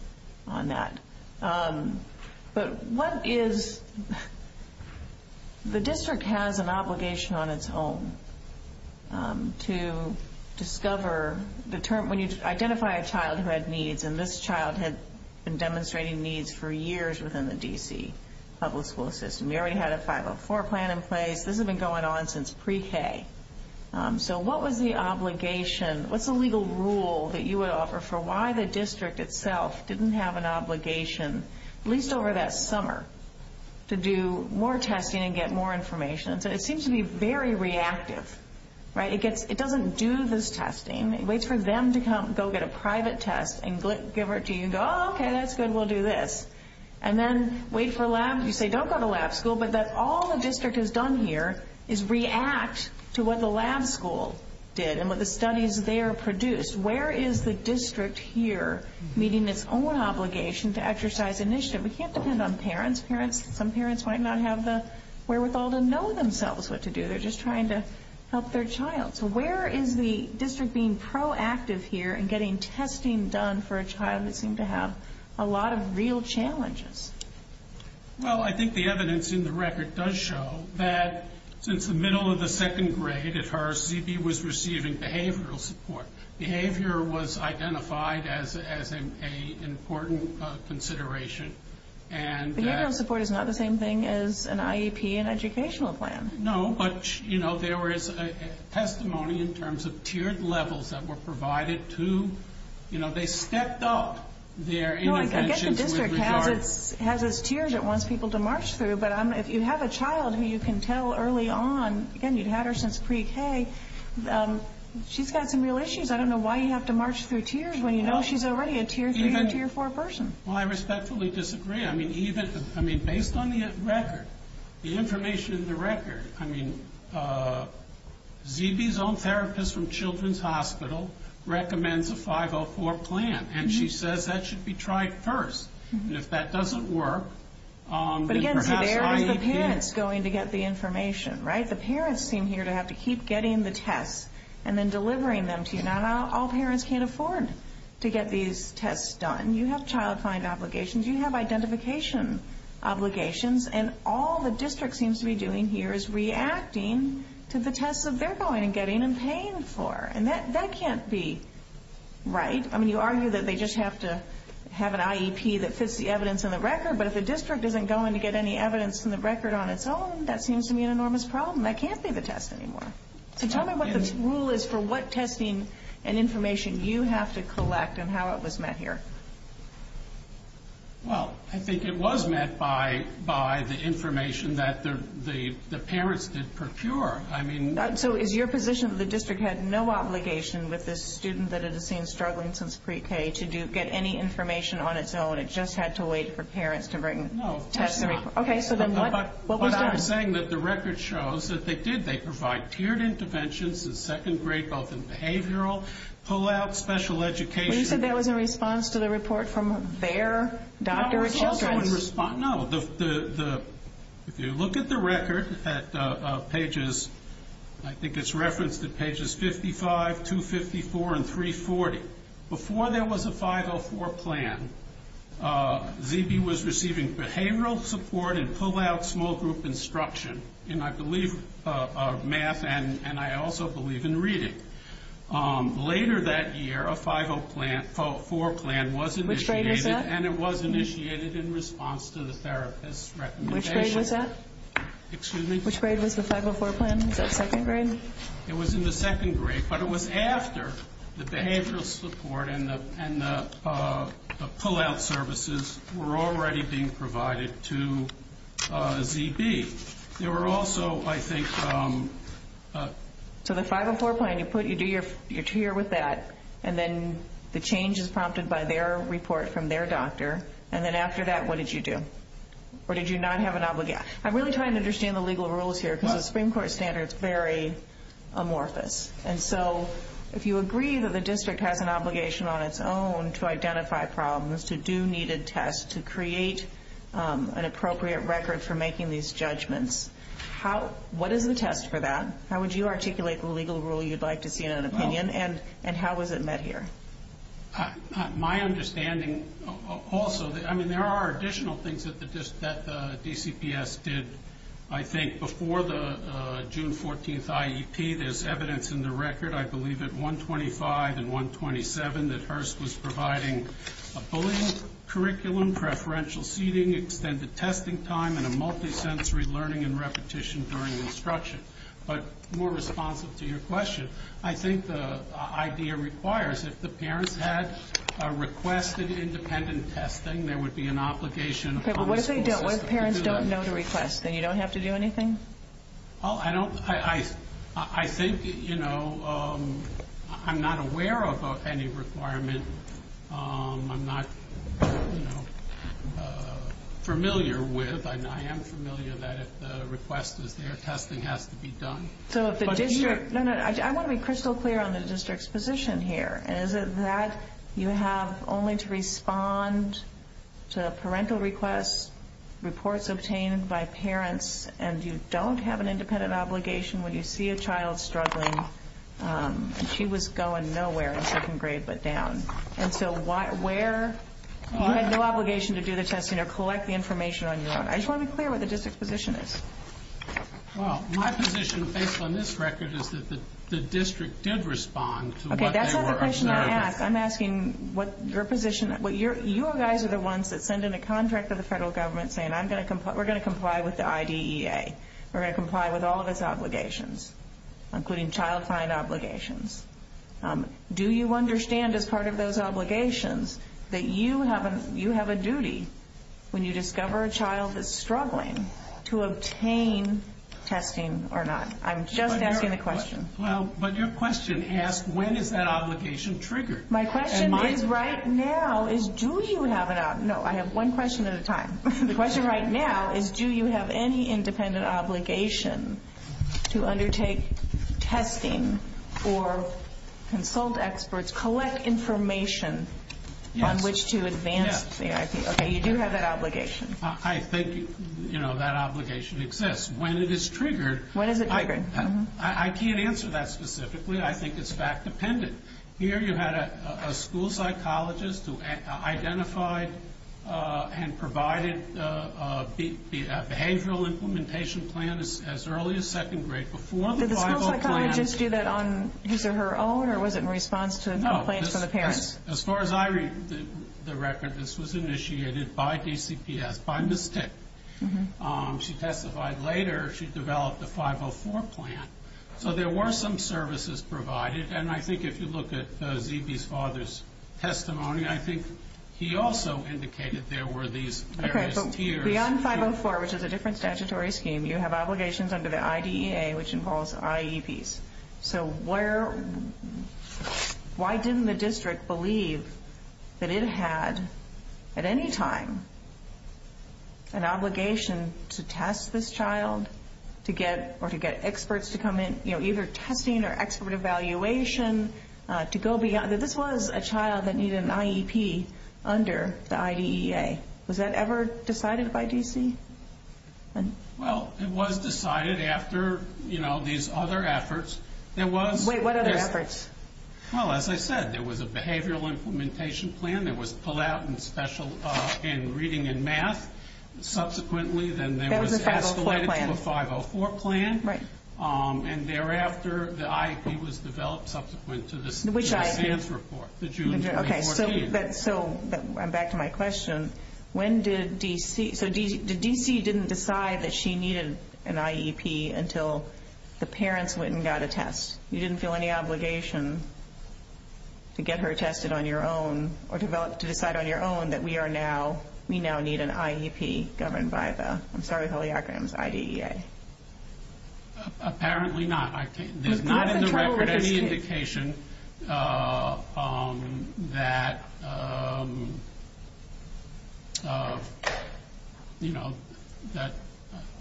on that. But what is... The district has an obligation on its own to discover... When you identify a child who has needs, and this child has been demonstrating needs for years within the D.C. public school system. You already had a 504 plan in place. This has been going on since pre-K. So what was the obligation? What's the legal rule that you would offer for why the district itself didn't have an obligation, at least over that summer, to do more testing and get more information? It seems to be very reactive, right? It doesn't do this testing. It waits for them to go get a private test and give it to you and go, oh, okay, that's good. We'll do this. And then wait for labs. You say, don't go to lab school. But all the district has done here is react to what the lab school did and what the studies there produced. Where is the district here meeting its own obligation to exercise initiative? We can't depend on parents. Some parents might not have the wherewithal to know themselves what to do. They're just trying to help their child. So where is the district being proactive here in getting testing done for a child that seems to have a lot of real challenges? Well, I think the evidence in the record does show that since the middle of the second grade at Harris, ZB was receiving behavioral support. Behavior was identified as an important consideration. Behavioral support is not the same thing as an IEP and educational plan. No, but, you know, there was testimony in terms of tiered levels that were provided to, you know, they stepped up their intervention. Well, I guess the district has its tiers it wants people to march through. But if you have a child who you can tell early on, again, you've had her since pre-K, she's got some real issues. I don't know why you have to march through tiers when you know she's already a tier 3 or tier 4 person. Well, I respectfully disagree. I mean, based on the record, the information in the record, I mean, ZB's own therapist from Children's Hospital recommends a 504 plan. And she says that should be tried first. And if that doesn't work, then perhaps IEP. But, again, there's the parents going to get the information, right? The parents seem here to have to keep getting the tests and then delivering them to you. Not all parents can afford to get these tests done. You have child find obligations. You have identification obligations. And all the district seems to be doing here is reacting to the tests that they're going and getting and paying for. And that can't be right. I mean, you argue that they just have to have an IEP that fits the evidence in the record. But if the district isn't going to get any evidence from the record on its own, that seems to be an enormous problem. That can't be the test anymore. So tell me what the rule is for what testing and information you have to collect and how it was met here. Well, I think it was met by the information that the parents did procure. So is your position that the district had no obligation with the student that it seems struggling since pre-K to get any information on its own? It just had to wait for parents to bring tests? No. Okay, so then what was that? I'm saying that the record shows that they did. They provide tiered interventions in second grade, both in behavioral, pull-out, special education. You said that was in response to the report from their doctor and children. No. If you look at the record at pages, I think it's referenced at pages 55, 254, and 340, before there was a 504 plan, ZB was receiving behavioral support and pull-out small group instruction, and I believe math and I also believe in reading. Later that year, a 504 plan was initiated. Which grade was that? And it was initiated in response to the therapist's recommendation. Which grade was that? Excuse me? Which grade was the 504 plan? Was that second grade? It was in the second grade, but it was after the behavioral support and the pull-out services were already being provided to ZB. There were also, I think, some... So the 504 plan, you do your tier with that, and then the change is prompted by their report from their doctor, and then after that, what did you do? Or did you not have an obligation? I'm really trying to understand the legal rules here because the Supreme Court standard is very amorphous. And so if you agree that the district has an obligation on its own to identify problems, to do needed tests, to create an appropriate record for making these judgments, what is the test for that? How would you articulate the legal rule you'd like to see in an opinion, and how was it met here? My understanding also, I mean, there are additional things that the DCPS did, I think, before the June 14th IEP. There's evidence in the record, I believe, at 125 and 127 that HRST was providing a bullying curriculum, preferential seating, extended testing time, and a multi-sensory learning and repetition during instruction. But more responsive to your question, I think the idea requires if the parents had requested independent testing, there would be an obligation... What if parents don't know to request? Then you don't have to do anything? I think, you know, I'm not aware of any requirement I'm not familiar with. I am familiar that if the request is there, testing has to be done. So if the district... No, no, I want to be crystal clear on the district's position here. Is it that you have only to respond to parental requests, reports obtained by parents, and you don't have an independent obligation when you see a child struggling and she was going nowhere and taking grades but down? And so where you have no obligation to do the testing or collect the information on your own. I just want to be clear where the district's position is. Well, my position, based on this record, is that the district did respond to what they were... Okay, that's not the question I'm asking. I'm asking what your position... You guys are the ones that send in a contract to the federal government saying we're going to comply with the IDEA. We're going to comply with all of its obligations, including child's time obligations. Do you understand as part of those obligations that you have a duty when you discover a child that's struggling to obtain testing or not? I'm just asking a question. Well, but your question asked when is that obligation triggered? My question is right now is do you have an... No, I have one question at a time. The question right now is do you have any independent obligation to undertake testing or consult experts, collect information on which to advance the IDEA? Okay, you do have that obligation. I think, you know, that obligation exists. When it is triggered... When is it triggered? I can't answer that specifically. I think it's fact dependent. Here you had a school psychologist who identified and provided the behavioral implementation plan as early as second grade. Did the school psychologist do that on either her own or was it in response to complaints from the parents? No, as far as I read the record, this was initiated by DCPS, by Ms. Tick. She testified later she developed a 504 plan. So there were some services provided, and I think if you look at the DP's father's testimony, I think he also indicated there were these various tiers. Okay, so beyond 504, which is a different statutory scheme, you have obligations under the IDEA, which involves IEPs. So why didn't the district believe that it had, at any time, an obligation to test this child or to get experts to come in, you know, either testing or expert evaluation? This was a child that needed an IEP under the IDEA. Was that ever decided by DC? Well, it was decided after, you know, these other efforts. Wait, what other efforts? Well, as I said, there was a behavioral implementation plan that was pulled out in reading and math. Subsequently, then there was an escalation of 504 plan. Right. And thereafter, the IEP was developed subsequent to this report. Okay, so I'm back to my question. When did DC – so did DC didn't decide that she needed an IEP until the parents went and got a test? You didn't feel any obligation to get her tested on your own or to decide on your own that we are now – we now need an IEP governed by the – I'm sorry, how do you acronym I-D-E-A? Apparently not. There's not in the record any indication that, you know, that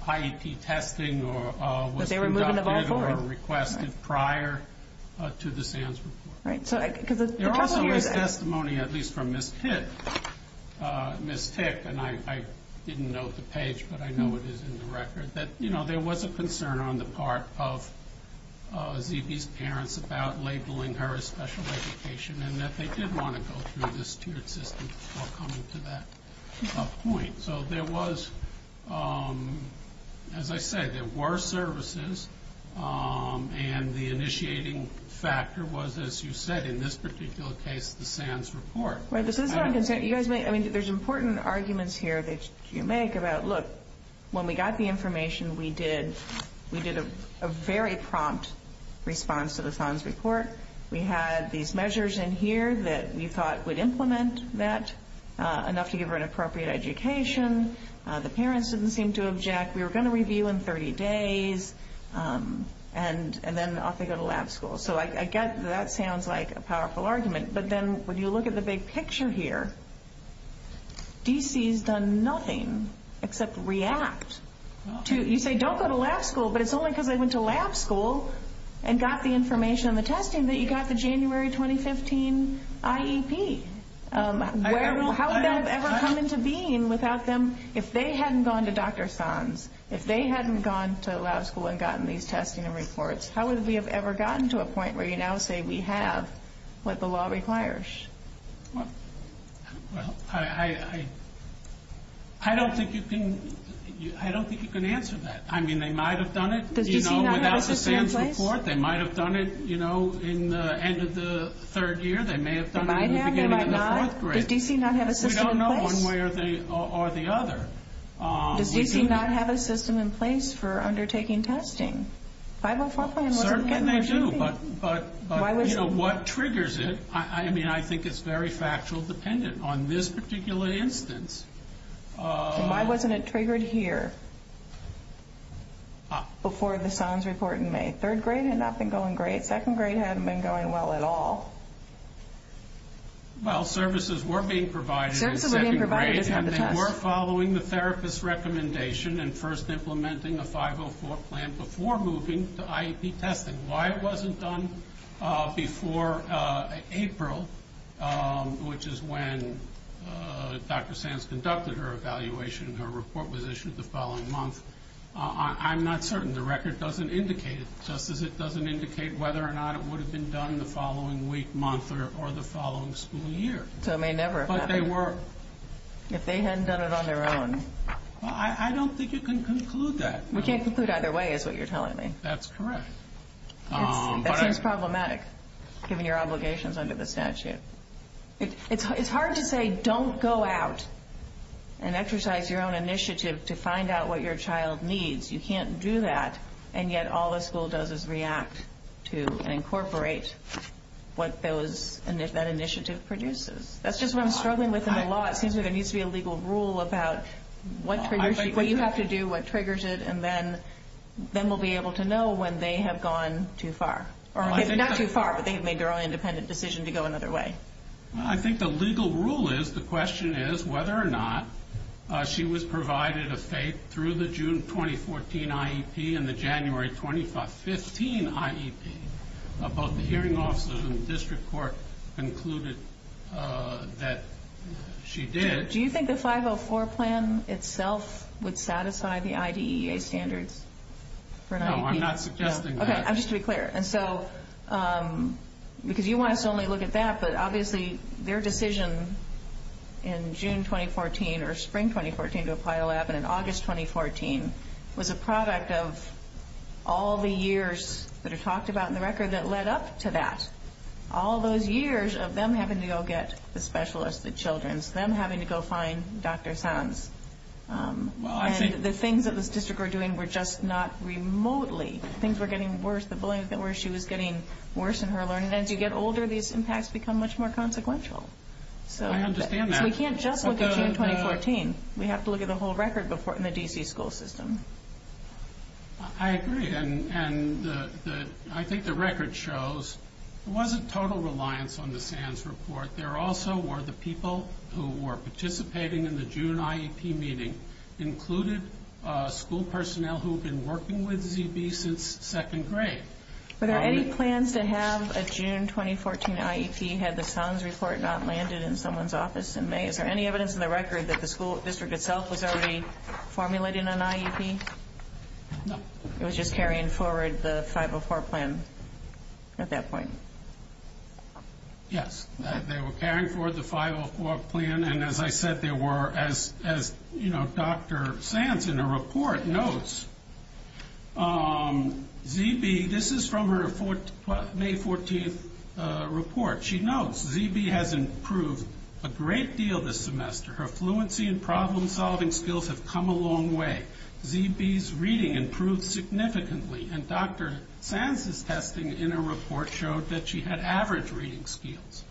IEP testing or was conducted or requested prior to the sales report. Right. There also was testimony, at least from Ms. Pitt, Ms. Pitt, and I didn't note the page, but I know it is in the record, that, you know, there was a concern on the part of DB's parents about labeling her as special education and that they did want to go through this tiered system before coming to that point. So there was, as I said, there were services, and the initiating factor was, as you said, in this particular case, the SANS report. You guys made – I mean, there's important arguments here that you make about, look, when we got the information, we did a very prompt response to the SANS report. We had these measures in here that we thought would implement that enough to give her an appropriate education. The parents didn't seem to object. We were going to review in 30 days, and then off they go to lab school. So I guess that sounds like a powerful argument, but then when you look at the big picture here, D.C. has done nothing except react. You say don't go to lab school, but it's only because they went to lab school and got the information on the testing that you got the January 2015 IEP. How would that have ever come into being without them? If they hadn't gone to Dr. SANS, if they hadn't gone to lab school and gotten these testing and reports, how would we have ever gotten to a point where you now say we have what the law requires? Well, I don't think you can answer that. I mean, they might have done it, you know, without the SANS report. They might have done it, you know, in the end of the third year. They may have done it in the first grade. We don't know one way or the other. Does D.C. not have a system in place for undertaking testing? 504 plan wouldn't get an IEP. Certainly they do, but, you know, what triggers it? I mean, I think it's very factual dependent on this particular instance. Why wasn't it triggered here before the SANS report in May? Third grade had not been going great. Second grade hadn't been going well at all. Well, services were being provided in second grade and they were following the therapist's recommendation and first implementing a 504 plan before moving to IEP testing. Why it wasn't done before April, which is when Dr. SANS conducted her evaluation and her report was issued the following month, I'm not certain. The record doesn't indicate it, just as it doesn't indicate whether or not it would have been done the following week, month, or the following school year. So it may never have happened. But they were. If they hadn't done it on their own. Well, I don't think you can conclude that. We can't conclude either way is what you're telling me. That's correct. It's problematic, given your obligations under the statute. It's hard to say don't go out and exercise your own initiative to find out what your child needs. You can't do that. And yet all the school does is react to incorporate what that initiative produces. That's just what I'm struggling with in the law. It seems like there needs to be a legal rule about what triggers it, what you have to do, what triggers it, and then we'll be able to know when they have gone too far. Not too far, but they've made their own independent decision to go another way. I think the legal rule is, the question is whether or not she was provided a FAPE through the June 2014 IEP and the January 2015 IEP. Both the hearing officers and the district court concluded that she did. Do you think the 504 plan itself would satisfy the IDEA standards for an IEP? No, I'm not suggesting that. Okay, just to be clear. Because you want us to only look at that, but obviously their decision in June 2014 or spring 2014 to apply a lab and in August 2014 was a product of all the years that are talked about in the record that led up to that. All those years of them having to go get the specialists, the children, them having to go find Dr. Sands. The things that the district were doing were just not remotely. Things were getting worse. The bullying was getting worse in her learning. As you get older, these impacts become much more consequential. We can't just look at June 2014. We have to look at the whole record in the DC school system. I agree, and I think the record shows it wasn't total reliance on the Sands report. There also were the people who were participating in the June IEP meeting included school personnel who had been working with ZB since second grade. Are there any plans to have a June 2014 IEP had the Sands report not landed in someone's office in May? Is there any evidence in the record that the school district itself was already formulating an IEP? No. It was just carrying forward the 504 plan at that point. Yes, they were carrying forward the 504 plan, and as I said, there were, as Dr. Sands in her report notes, ZB, this is from her May 14th report. She notes ZB has improved a great deal this semester. Her fluency and problem-solving skills have come a long way. ZB's reading improved significantly, and Dr. Sands' testing in her report showed that she had average reading skills.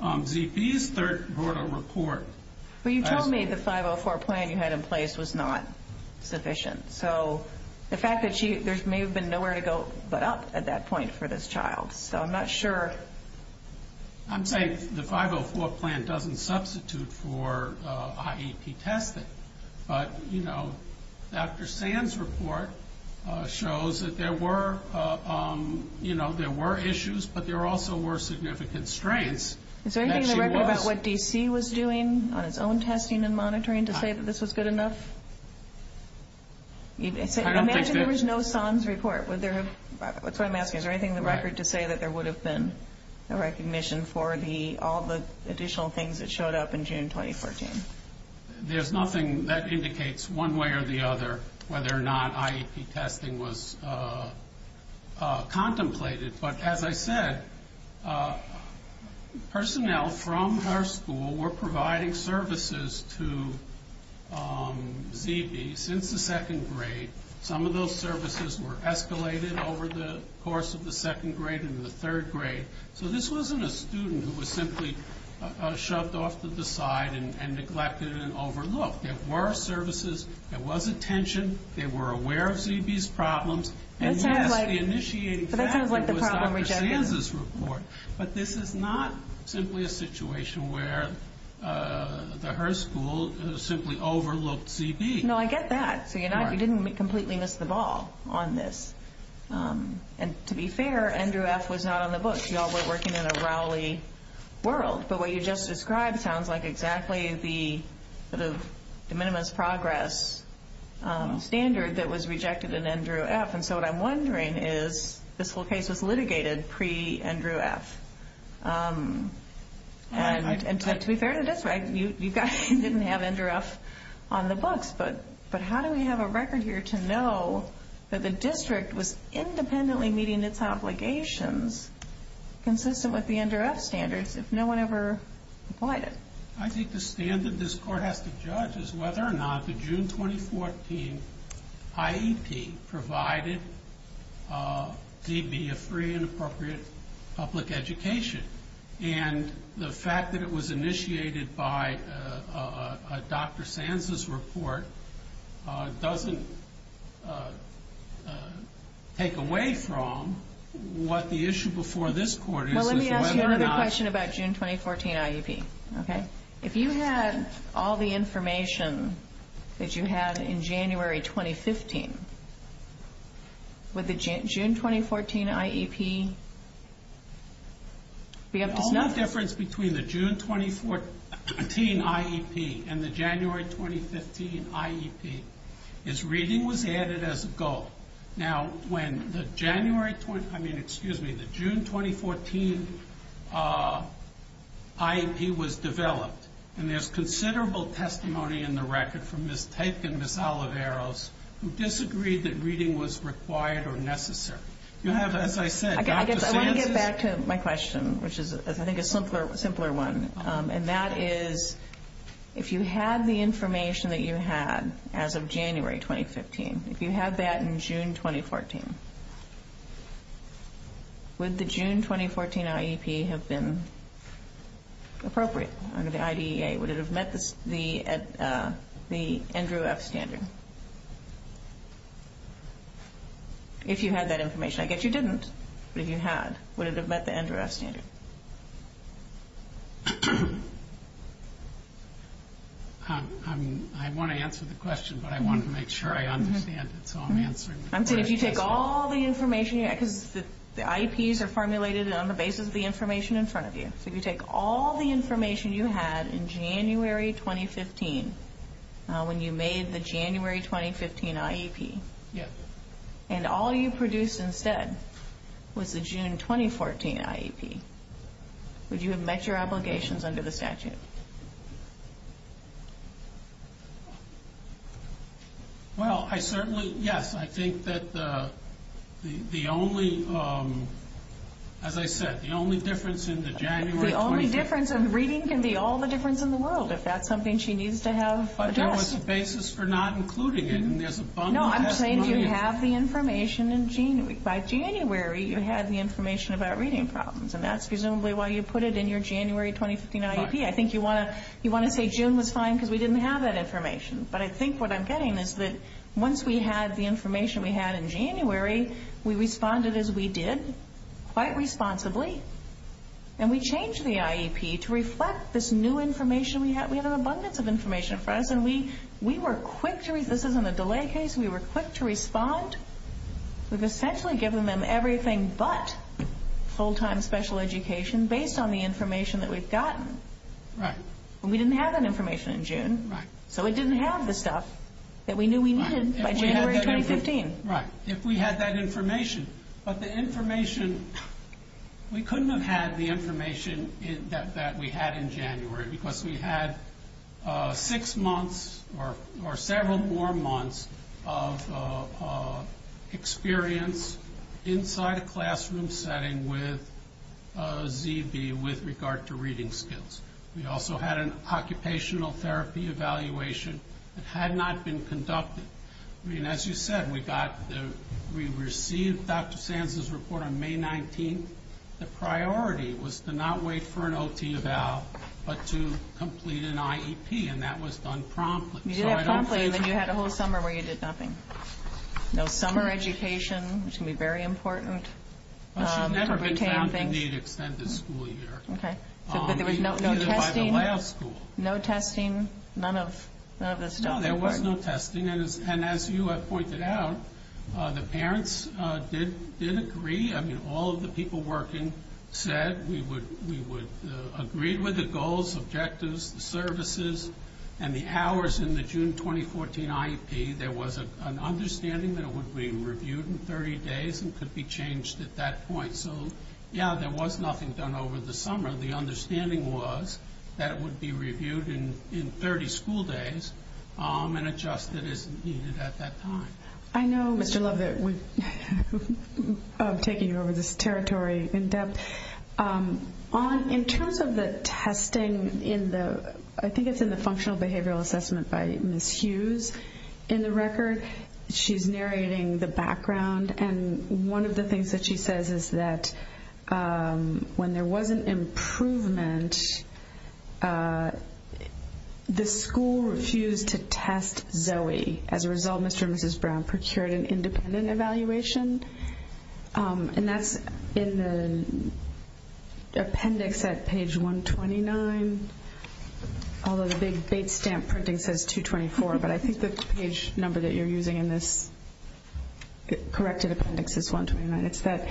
ZB's third report. Well, you told me the 504 plan you had in place was not sufficient, so the fact that there may have been nowhere to go but up at that point for this child. So I'm not sure. I'm saying the 504 plan doesn't substitute for IEP testing, but, you know, Dr. Sands' report shows that there were, you know, there were issues, but there also were significant strengths. Is there anything in the record about what DC was doing on its own testing and monitoring to say that this was good enough? I imagine there was no Sands' report. That's what I'm asking. Is there anything in the record to say that there would have been a recognition for all the additional things that showed up in June 2014? There's nothing that indicates one way or the other whether or not IEP testing was contemplated, but as I said, personnel from our school were providing services to ZB since the second grade. Some of those services were escalated over the course of the second grade and the third grade, so this wasn't a student who was simply shut off to the side and neglected and overlooked. There were services. There was attention. They were aware of ZB's problems. That sounds like the problem with Dr. Sands' report, but this is not simply a situation where her school simply overlooked ZB. No, I get that. You didn't completely miss the ball on this, and to be fair, Andrew F. was not on the book. You all were working in a Rowley world, but what you just described sounds like exactly the Minimus Progress standard that was rejected in Andrew F., and so what I'm wondering is this whole case is litigated pre-Andrew F., and to be fair to this, right, you didn't have Andrew F. on the book, but how do we have a record here to know that the district was independently meeting its obligations consistent with the Andrew F. standards? If no one ever applied it. I think the standard this court has to judge is whether or not the June 2014 IEP provided ZB a free and appropriate public education, and the fact that it was initiated by Dr. Sands' report doesn't take away from what the issue before this court is. Let me ask you another question about June 2014 IEP. If you had all the information that you had in January 2015, would the June 2014 IEP? The only difference between the June 2014 IEP and the January 2015 IEP is reading was added as a gulf. Now, when the June 2014 IEP was developed, and there's considerable testimony in the record from Ms. Peck and Ms. Oliveros who disagreed that reading was required or necessary. You have, as I said, Dr. Sands' report. I want to get back to my question, which I think is a simpler one, and that is if you had the information that you had as of January 2015, if you had that in June 2014, would the June 2014 IEP have been appropriate under the IDEA? Would it have met the Andrew F. Standard? If you had that information. I guess you didn't, but if you had, would it have met the Andrew F. Standard? I want to answer the question, but I want to make sure I understand it, so I'm answering it first. If you take all the information, the IEPs are formulated on the basis of the information in front of you. If you take all the information you had in January 2015, when you made the January 2015 IEP, and all you produced instead was the June 2014 IEP, would you have met your obligations under the statute? Well, I certainly, yes. I think that the only, as I said, the only difference in the January 2015. The only difference in reading can be all the difference in the world, if that's something she needs to have addressed. But there was a basis for not including it. No, I'm saying you have the information in January. By January, you had the information about reading problems, and that's presumably why you put it in your January 2015 IEP. I think you want to say June was fine because we didn't have that information, but I think what I'm getting is that once we had the information we had in January, we responded as we did, quite responsibly, and we changed the IEP to reflect this new information we had. We had an abundance of information in front of us, and we were quick to, this isn't a delay case, we were quick to respond. We've essentially given them everything but full-time special education based on the information that we've gotten. Right. And we didn't have that information in June. Right. So it didn't have the stuff that we knew we needed by January 2015. Right. If we had that information. But the information, we couldn't have had the information that we had in January because we had six months or several more months of experience inside a classroom setting with ZB with regard to reading skills. We also had an occupational therapy evaluation that had not been conducted. I mean, as you said, we received Dr. Sands' report on May 19th. The priority was to not wait for an OT eval, but to complete an IEP, and that was done promptly. You did it promptly, and then you had a whole summer where you did nothing. No summer education, which can be very important. I've never been found to need extended school year. Okay. We did it by the last school. No testing, none of the stuff. No, there was no testing. And as you had pointed out, the parents did agree. I mean, all of the people working said we would agree with the goals, objectives, services, and the hours in the June 2014 IEP. There was an understanding that it would be reviewed in 30 days and could be changed at that point. So, yeah, there was nothing done over the summer. The understanding was that it would be reviewed in 30 school days and adjusted as needed at that time. I know, but you loved it. I'm taking you over this territory in depth. In terms of the testing in the, I think it's in the functional behavioral assessment by Ms. Hughes in the record, she's narrating the background, and one of the things that she says is that when there was an improvement, the school refused to test Zoe. As a result, Mr. and Mrs. Brown procured an independent evaluation, and that's in the appendix at page 129, although the big stamp printing says 224, but I think the page number that you're using in this corrected appendix is 129. It's that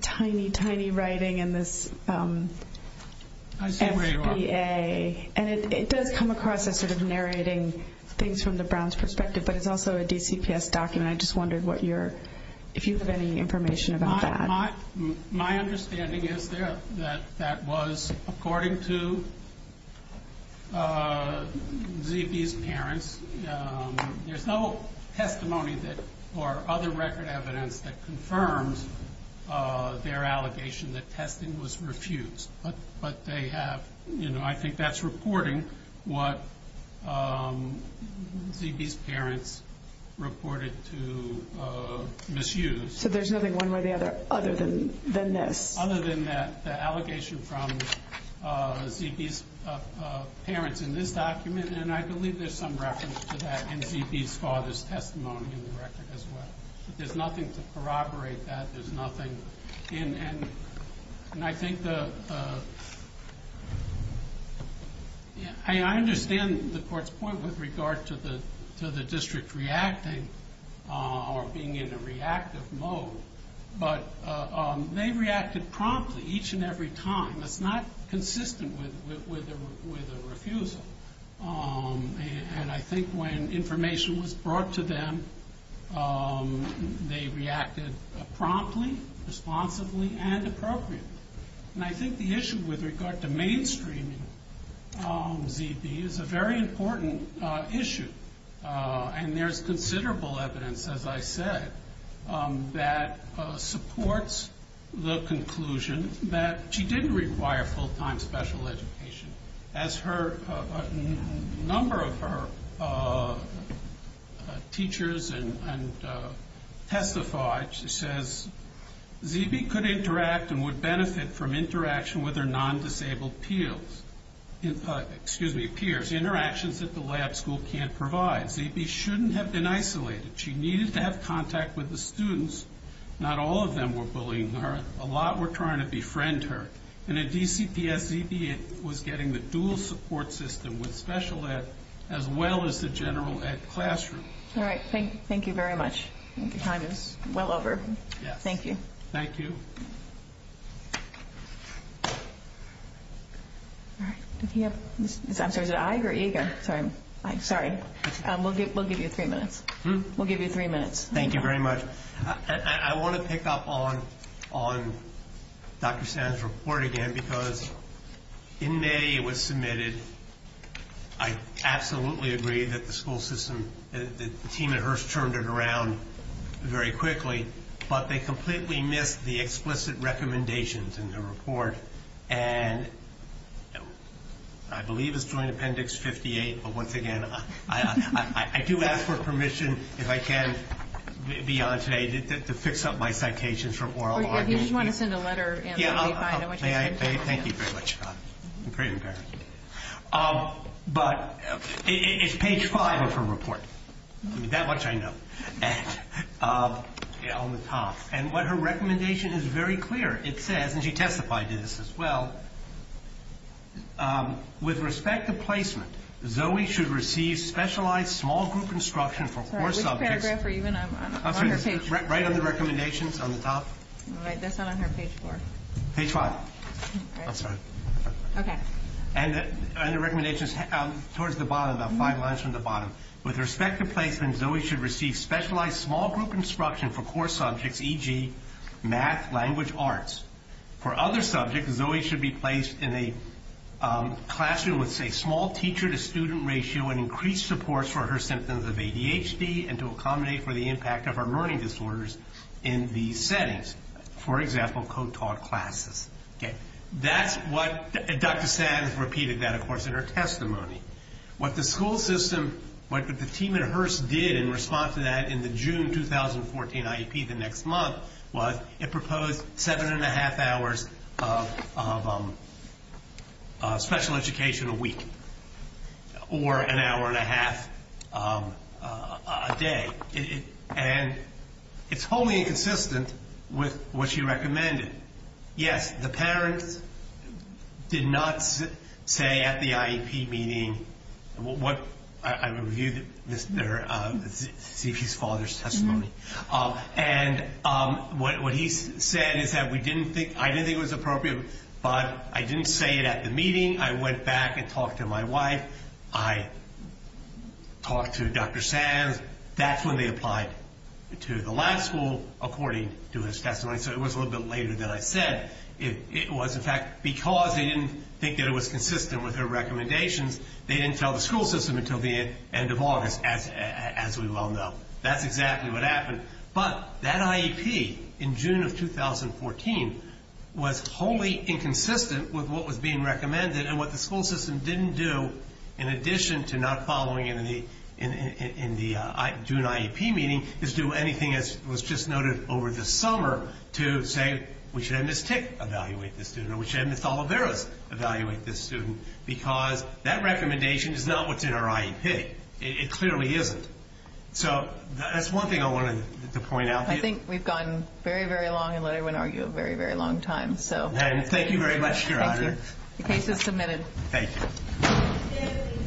tiny, tiny writing in this SBA, and it does come across as sort of narrating things from the Brown's perspective, but it's also a DCPS document. I just wondered if you have any information about that. My understanding is that that was according to Zippy's parents. There's no testimony or other record evidence that confirms their allegation that testing was refused, but I think that's reporting what Zippy's parents reported to Ms. Hughes. So there's nothing one way or the other other than this? Other than that allegation from Zippy's parents in this document, and I believe there's some reference to that in Zippy's father's testimony in the record as well, but there's nothing to corroborate that. There's nothing, and I think the – I mean, I understand the court's point with regard to the district reacting or being in a reactive mode, but they reacted promptly each and every time. It's not consistent with a refusal, and I think when information was brought to them, they reacted promptly, responsibly, and appropriately, and I think the issue with regard to mainstreaming Zippy is a very important issue, and there's considerable evidence, as I said, that supports the conclusion that she didn't require full-time special education. As a number of her teachers testified, she says, Zippy could interact and would benefit from interaction with her non-disabled peers, interactions that the lab school can't provide. Zippy shouldn't have been isolated. She needed to have contact with the students. Not all of them were bullying her. A lot were trying to befriend her, and at DCPS, Zippy was getting the dual support system with special ed as well as the general ed classroom. All right. Thank you very much. Time is well over. Thank you. Thank you. All right. I'm sorry. I agree. Sorry. We'll give you three minutes. We'll give you three minutes. Thank you very much. I want to pick up on Dr. Stanton's report again because in May it was submitted. I absolutely agree that the school system, the team at Hearst turned it around very quickly, but they completely missed the explicit recommendations in the report, and I believe it's doing appendix 58, but once again, I do ask for permission if I can, beyond today, to fix up my citations from oral arguments. Or if you just want to send a letter in. Thank you very much. I'm pretty impressed. But it's page five of her report. That much I know. On the top. And her recommendation is very clear. It says, and she testified to this as well, with respect to placement, Zoe should receive specialized small group instruction for core subjects. Which paragraph are you in? Right on the recommendations on the top. That's not on her page four. Page five. I'm sorry. Okay. And the recommendation is towards the bottom, about five lines from the bottom. With respect to placement, Zoe should receive specialized small group instruction for core subjects, e.g., math, language, arts. For other subjects, Zoe should be placed in a classroom with a small teacher-to-student ratio and increased support for her symptoms of ADHD and to accommodate for the impact of her learning disorders in the settings. For example, co-taught classes. That's what Dr. Sands repeated that, of course, in her testimony. What the school system, what the team at Hearst did in response to that in the June 2014 IEP, the next month, was it proposed seven and a half hours of special education a week. Or an hour and a half a day. And it's wholly inconsistent with what she recommended. Yes, the parent did not say at the IEP meeting what I reviewed, Mr. Zippy's father's testimony. And what he said is that we didn't think, I didn't think it was appropriate, but I didn't say it at the meeting. I went back and talked to my wife. I talked to Dr. Sands. That's when they applied to the lab school according to his testimony. So it was a little bit later than I said it was. In fact, because they didn't think it was consistent with their recommendations, they didn't tell the school system until the end of August, as we well know. That's exactly what happened. But that IEP in June of 2014 was wholly inconsistent with what was being recommended and what the school system didn't do, in addition to not following it in the June IEP meeting, to do anything that was just noted over the summer to say we should have Ms. Tick evaluate this student or we should have Ms. Oliveira evaluate this student because that recommendation is not what's in our IEP. It clearly isn't. So that's one thing I wanted to point out. I think we've gone very, very long, I won't argue, a very, very long time. And thank you very much. The case is submitted. Thank you.